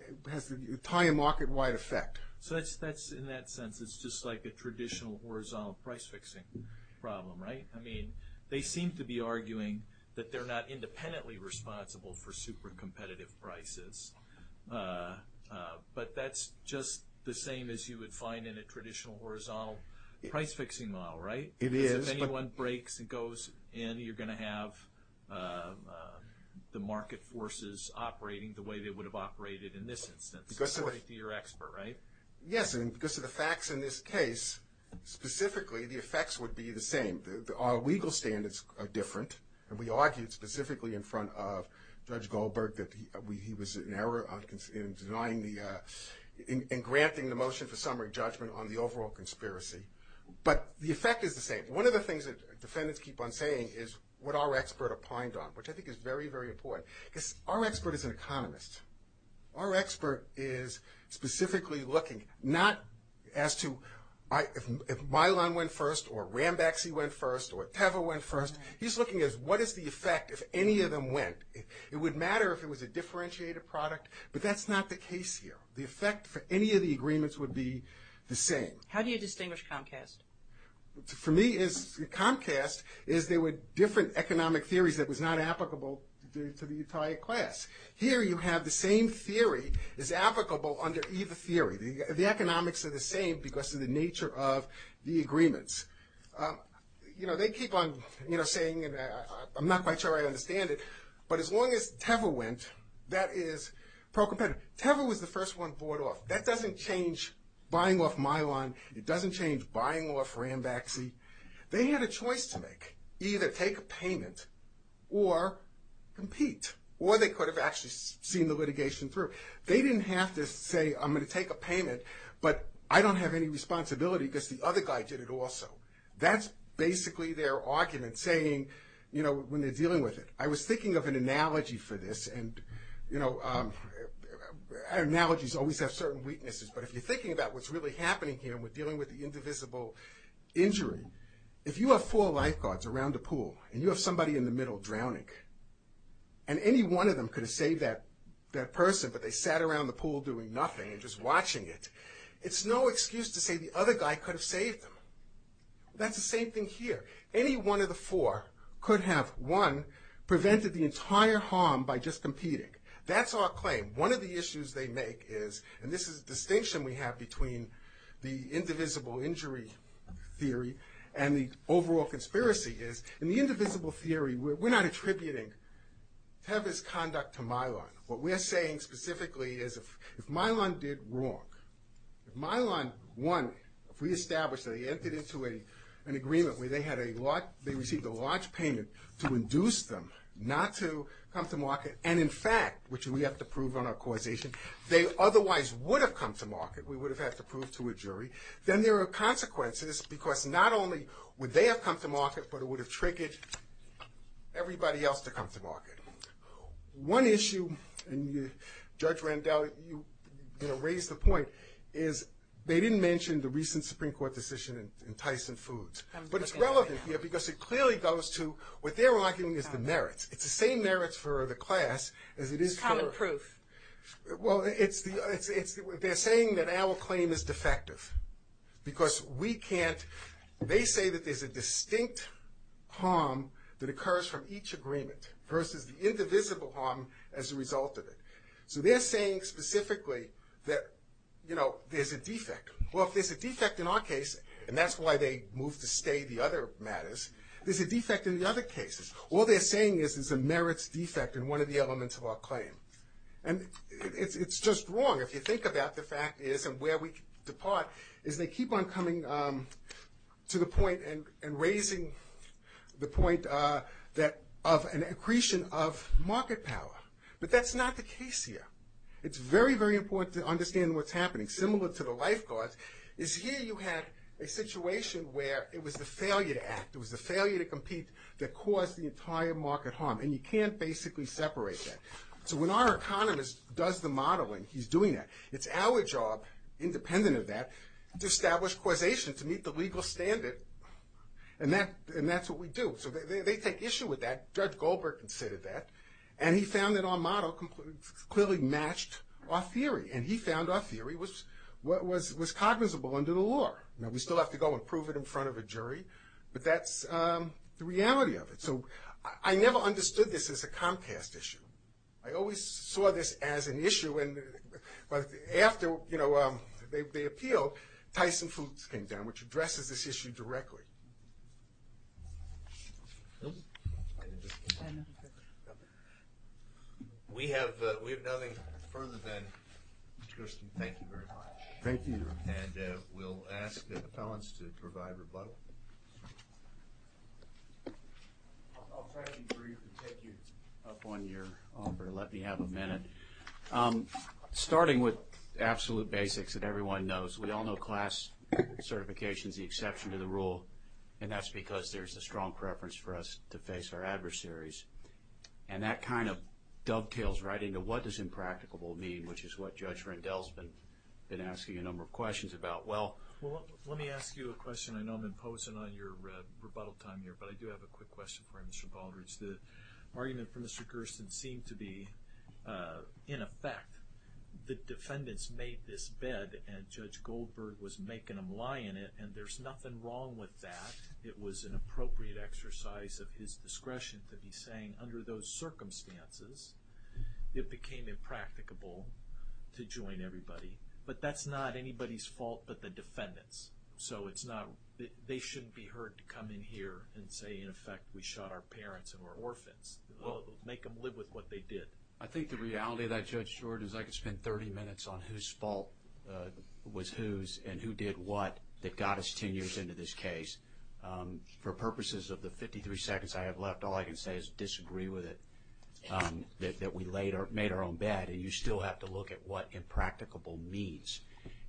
entire market-wide effect. So that's, in that sense, it's just like a traditional horizontal price-fixing problem, right? I mean, they seem to be arguing that they're not independently responsible for super-competitive prices. But that's just the same as you would find in a traditional horizontal price-fixing model, right? It is. Because if anyone breaks and goes in, you're going to have the market forces operating the way they would have operated in this instance, according to your expert, right? Yes, and because of the facts in this case, specifically, the effects would be the same. Our legal standards are different, and we argued specifically in front of Judge Goldberg that he was in error in denying the, in granting the motion for summary judgment on the overall conspiracy. But the effect is the same. One of the things that defendants keep on saying is what our expert opined on, which I think is very, very important. Because our expert is an economist. Our expert is specifically looking, not as to if Mylon went first, or Rambaxy went first, or Teva went first. He's looking at what is the effect if any of them went. It would matter if it was a differentiated product, but that's not the case here. The effect for any of the agreements would be the same. How do you distinguish Comcast? For me, Comcast is there were different economic theories that was not applicable to the entire class. Here you have the same theory as applicable under either theory. The economics are the same because of the nature of the agreements. You know, they keep on saying, and I'm not quite sure I understand it, but as long as Teva went, that is pro-competitive. Teva was the first one bought off. That doesn't change buying off Mylon. It doesn't change buying off Rambaxy. They had a choice to make. Either take a payment, or compete. Or they could have actually seen the litigation through. They didn't have to say, I'm going to take a payment, but I don't have any responsibility because the other guy did it also. That's basically their argument, saying, you know, when they're dealing with it. I was thinking of an analogy for this, and, you know, analogies always have certain weaknesses, but if you're thinking about what's really happening here when dealing with the indivisible injury, if you have four lifeguards around a pool, and you have somebody in the middle drowning, and any one of them could have saved that person, but they sat around the pool doing nothing and just watching it, it's no excuse to say the other guy could have saved them. That's the same thing here. Any one of the four could have, one, prevented the entire harm by just competing. That's our claim. One of the issues they make is, and this is a distinction we have between the indivisible injury theory and the overall conspiracy is, in the indivisible theory, we're not attributing Teva's conduct to Mylon. What we're saying specifically is if Mylon did wrong, if Mylon, one, if we establish that they entered into an agreement where they received a large payment to induce them not to come to market, and in fact, which we have to prove on our causation, they otherwise would have come to market, we would have had to prove to a jury, then there are consequences, because not only would they have come to market, but it would have triggered everybody else to come to market. One issue, and Judge Randall, you raised the point, is they didn't mention the recent Supreme Court decision in Tyson Foods, but it's relevant here because it clearly goes to, what they're arguing is the merits. It's the same merits for the class as it is for... Common proof. Well, they're saying that our claim is defective because we can't, they say that there's a distinct harm that occurs from each agreement versus the indivisible harm as a result of it. So they're saying specifically that, you know, there's a defect. Well, if there's a defect in our case, and that's why they moved to stay the other matters, there's a defect in the other cases. All they're saying is there's a merits defect in one of the elements of our claim. And it's just wrong. If you think about the fact is, and where we depart, is they keep on coming to the point and raising the point of an accretion of market power. But that's not the case here. It's very, very important to understand what's happening. Similar to the lifeguards, is here you had a situation where it was the failure to act, it was the failure to compete that caused the entire market harm. And you can't basically separate that. So when our economist does the modeling, he's doing that, it's our job, independent of that, to establish causation to meet the legal standard. And that's what we do. So they take issue with that. Judge Goldberg considered that. And he found that our model clearly matched our theory. And he found our theory was cognizable under the law. Now we still have to go and prove it in front of a jury. But that's the reality of it. So I never understood this as a Comcast issue. I always saw this as an issue. But after they appealed, Tyson Foods came down, which addresses this issue directly. No? We have nothing further than... Mr. Gersten, thank you very much. Thank you. And we'll ask the appellants to provide rebuttal. I'll try to be brief and take you up on your offer. Let me have a minute. Starting with absolute basics that everyone knows, we all know class certification is the exception to the rule. And that's because there's a strong preference for us to face our adversaries. And that kind of dovetails right into what does impracticable mean, which is what Judge Rendell's been asking a number of questions about. Well, let me ask you a question. I know I'm imposing on your rebuttal time here, but I do have a quick question for you, Mr. Baldrige. The argument for Mr. Gersten seemed to be, in effect, the defendants made this bed and Judge Goldberg was making them lie in it, and there's nothing wrong with that. It was an appropriate exercise of his discretion to be saying, under those circumstances, it became impracticable to join everybody. But that's not anybody's fault but the defendant's. So it's not... They shouldn't be heard to come in here and say, in effect, we shot our parents and were orphans. Make them live with what they did. I think the reality of that, Judge George, is I could spend 30 minutes on whose fault was whose and who did what that got us 10 years into this case. For purposes of the 53 seconds I have left, all I can say is disagree with it, that we made our own bed, and you still have to look at what impracticable means.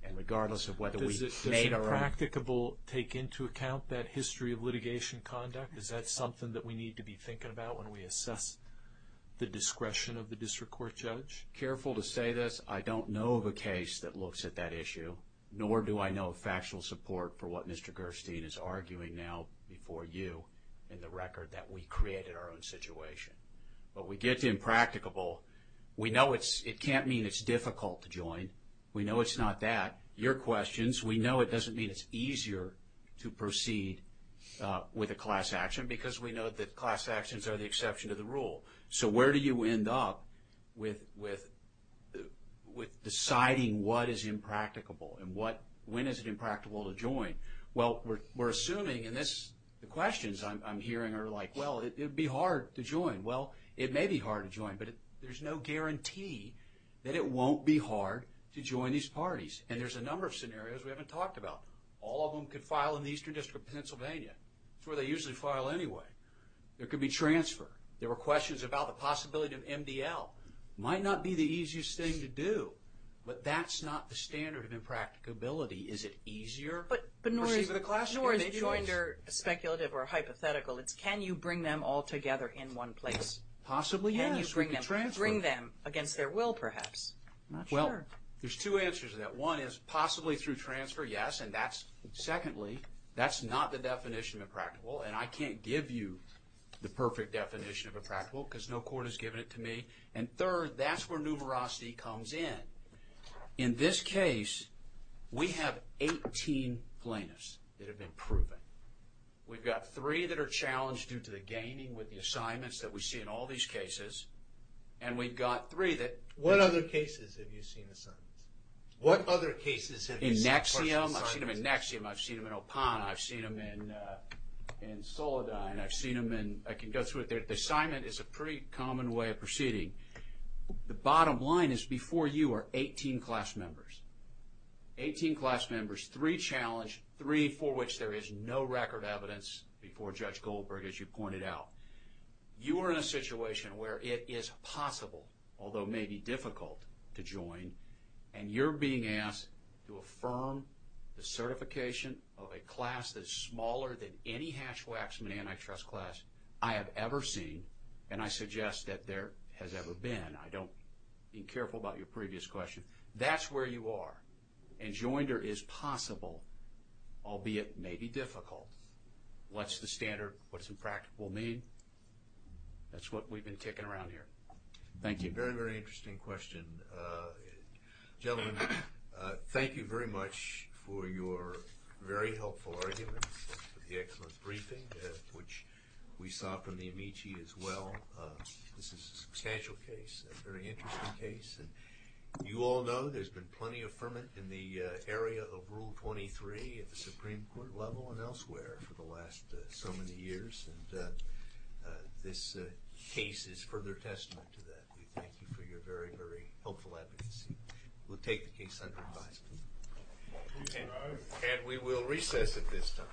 And regardless of whether we made our own... Does impracticable take into account that history of litigation conduct? Is that something that we need to be thinking about when we assess the discretion of the district court judge? Careful to say this. I don't know of a case that looks at that issue, nor do I know of factual support for what Mr. Gerstein is arguing now before you in the record that we created our own situation. But we get to impracticable. We know it can't mean it's difficult to join. We know it's not that. Your questions, we know it doesn't mean it's easier to proceed with a class action because we know that class actions are the exception to the rule. So where do you end up with deciding what is impracticable and when is it impracticable to join? Well, we're assuming, and the questions I'm hearing are like, well, it would be hard to join. Well, it may be hard to join, but there's no guarantee that it won't be hard to join these parties. And there's a number of scenarios we haven't talked about. All of them could file in the Eastern District of Pennsylvania. It's where they usually file anyway. There could be transfer. There were questions about the possibility of MDL. It might not be the easiest thing to do, but that's not the standard of impracticability. Is it easier to proceed with a class action? But nor is joinder speculative or hypothetical. It's can you bring them all together in one place? Possibly, yes. Bring them against their will, perhaps. I'm not sure. Well, there's two answers to that. One is possibly through transfer, yes. And secondly, that's not the definition of impracticable, and I can't give you the perfect definition of impracticable because no court has given it to me. And third, that's where numerosity comes in. In this case, we have 18 plaintiffs that have been proven. We've got three that are challenged due to the gaming with the assignments that we see in all these cases, and we've got three that... What other cases have you seen assignments? What other cases have you seen questions... In Nexium, I've seen them in Nexium. I've seen them in Opana. I've seen them in Soledad. I've seen them in... I can go through it. The assignment is a pretty common way of proceeding. The bottom line is before you are 18 class members. Eighteen class members, three challenged, three for which there is no record evidence before Judge Goldberg, as you pointed out. You are in a situation where it is possible, although maybe difficult, to join, and you're being asked to affirm the certification of a class that is smaller than any hash-waxman antitrust class I have ever seen, and I suggest that there has ever been. I don't... Be careful about your previous question. That's where you are. And joinder is possible, albeit maybe difficult. What's the standard? What does impractical mean? That's what we've been ticking around here. Thank you. That's a very, very interesting question. Gentlemen, thank you very much for your very helpful arguments for the excellent briefing, which we saw from the Amici as well. This is a substantial case, a very interesting case. You all know there's been plenty of ferment in the area of Rule 23 at the Supreme Court level and elsewhere for the last so many years. This case is further testament to that. We thank you for your very, very helpful advocacy. We'll take the case under advice. And we will recess at this time. Thank you. Thank you.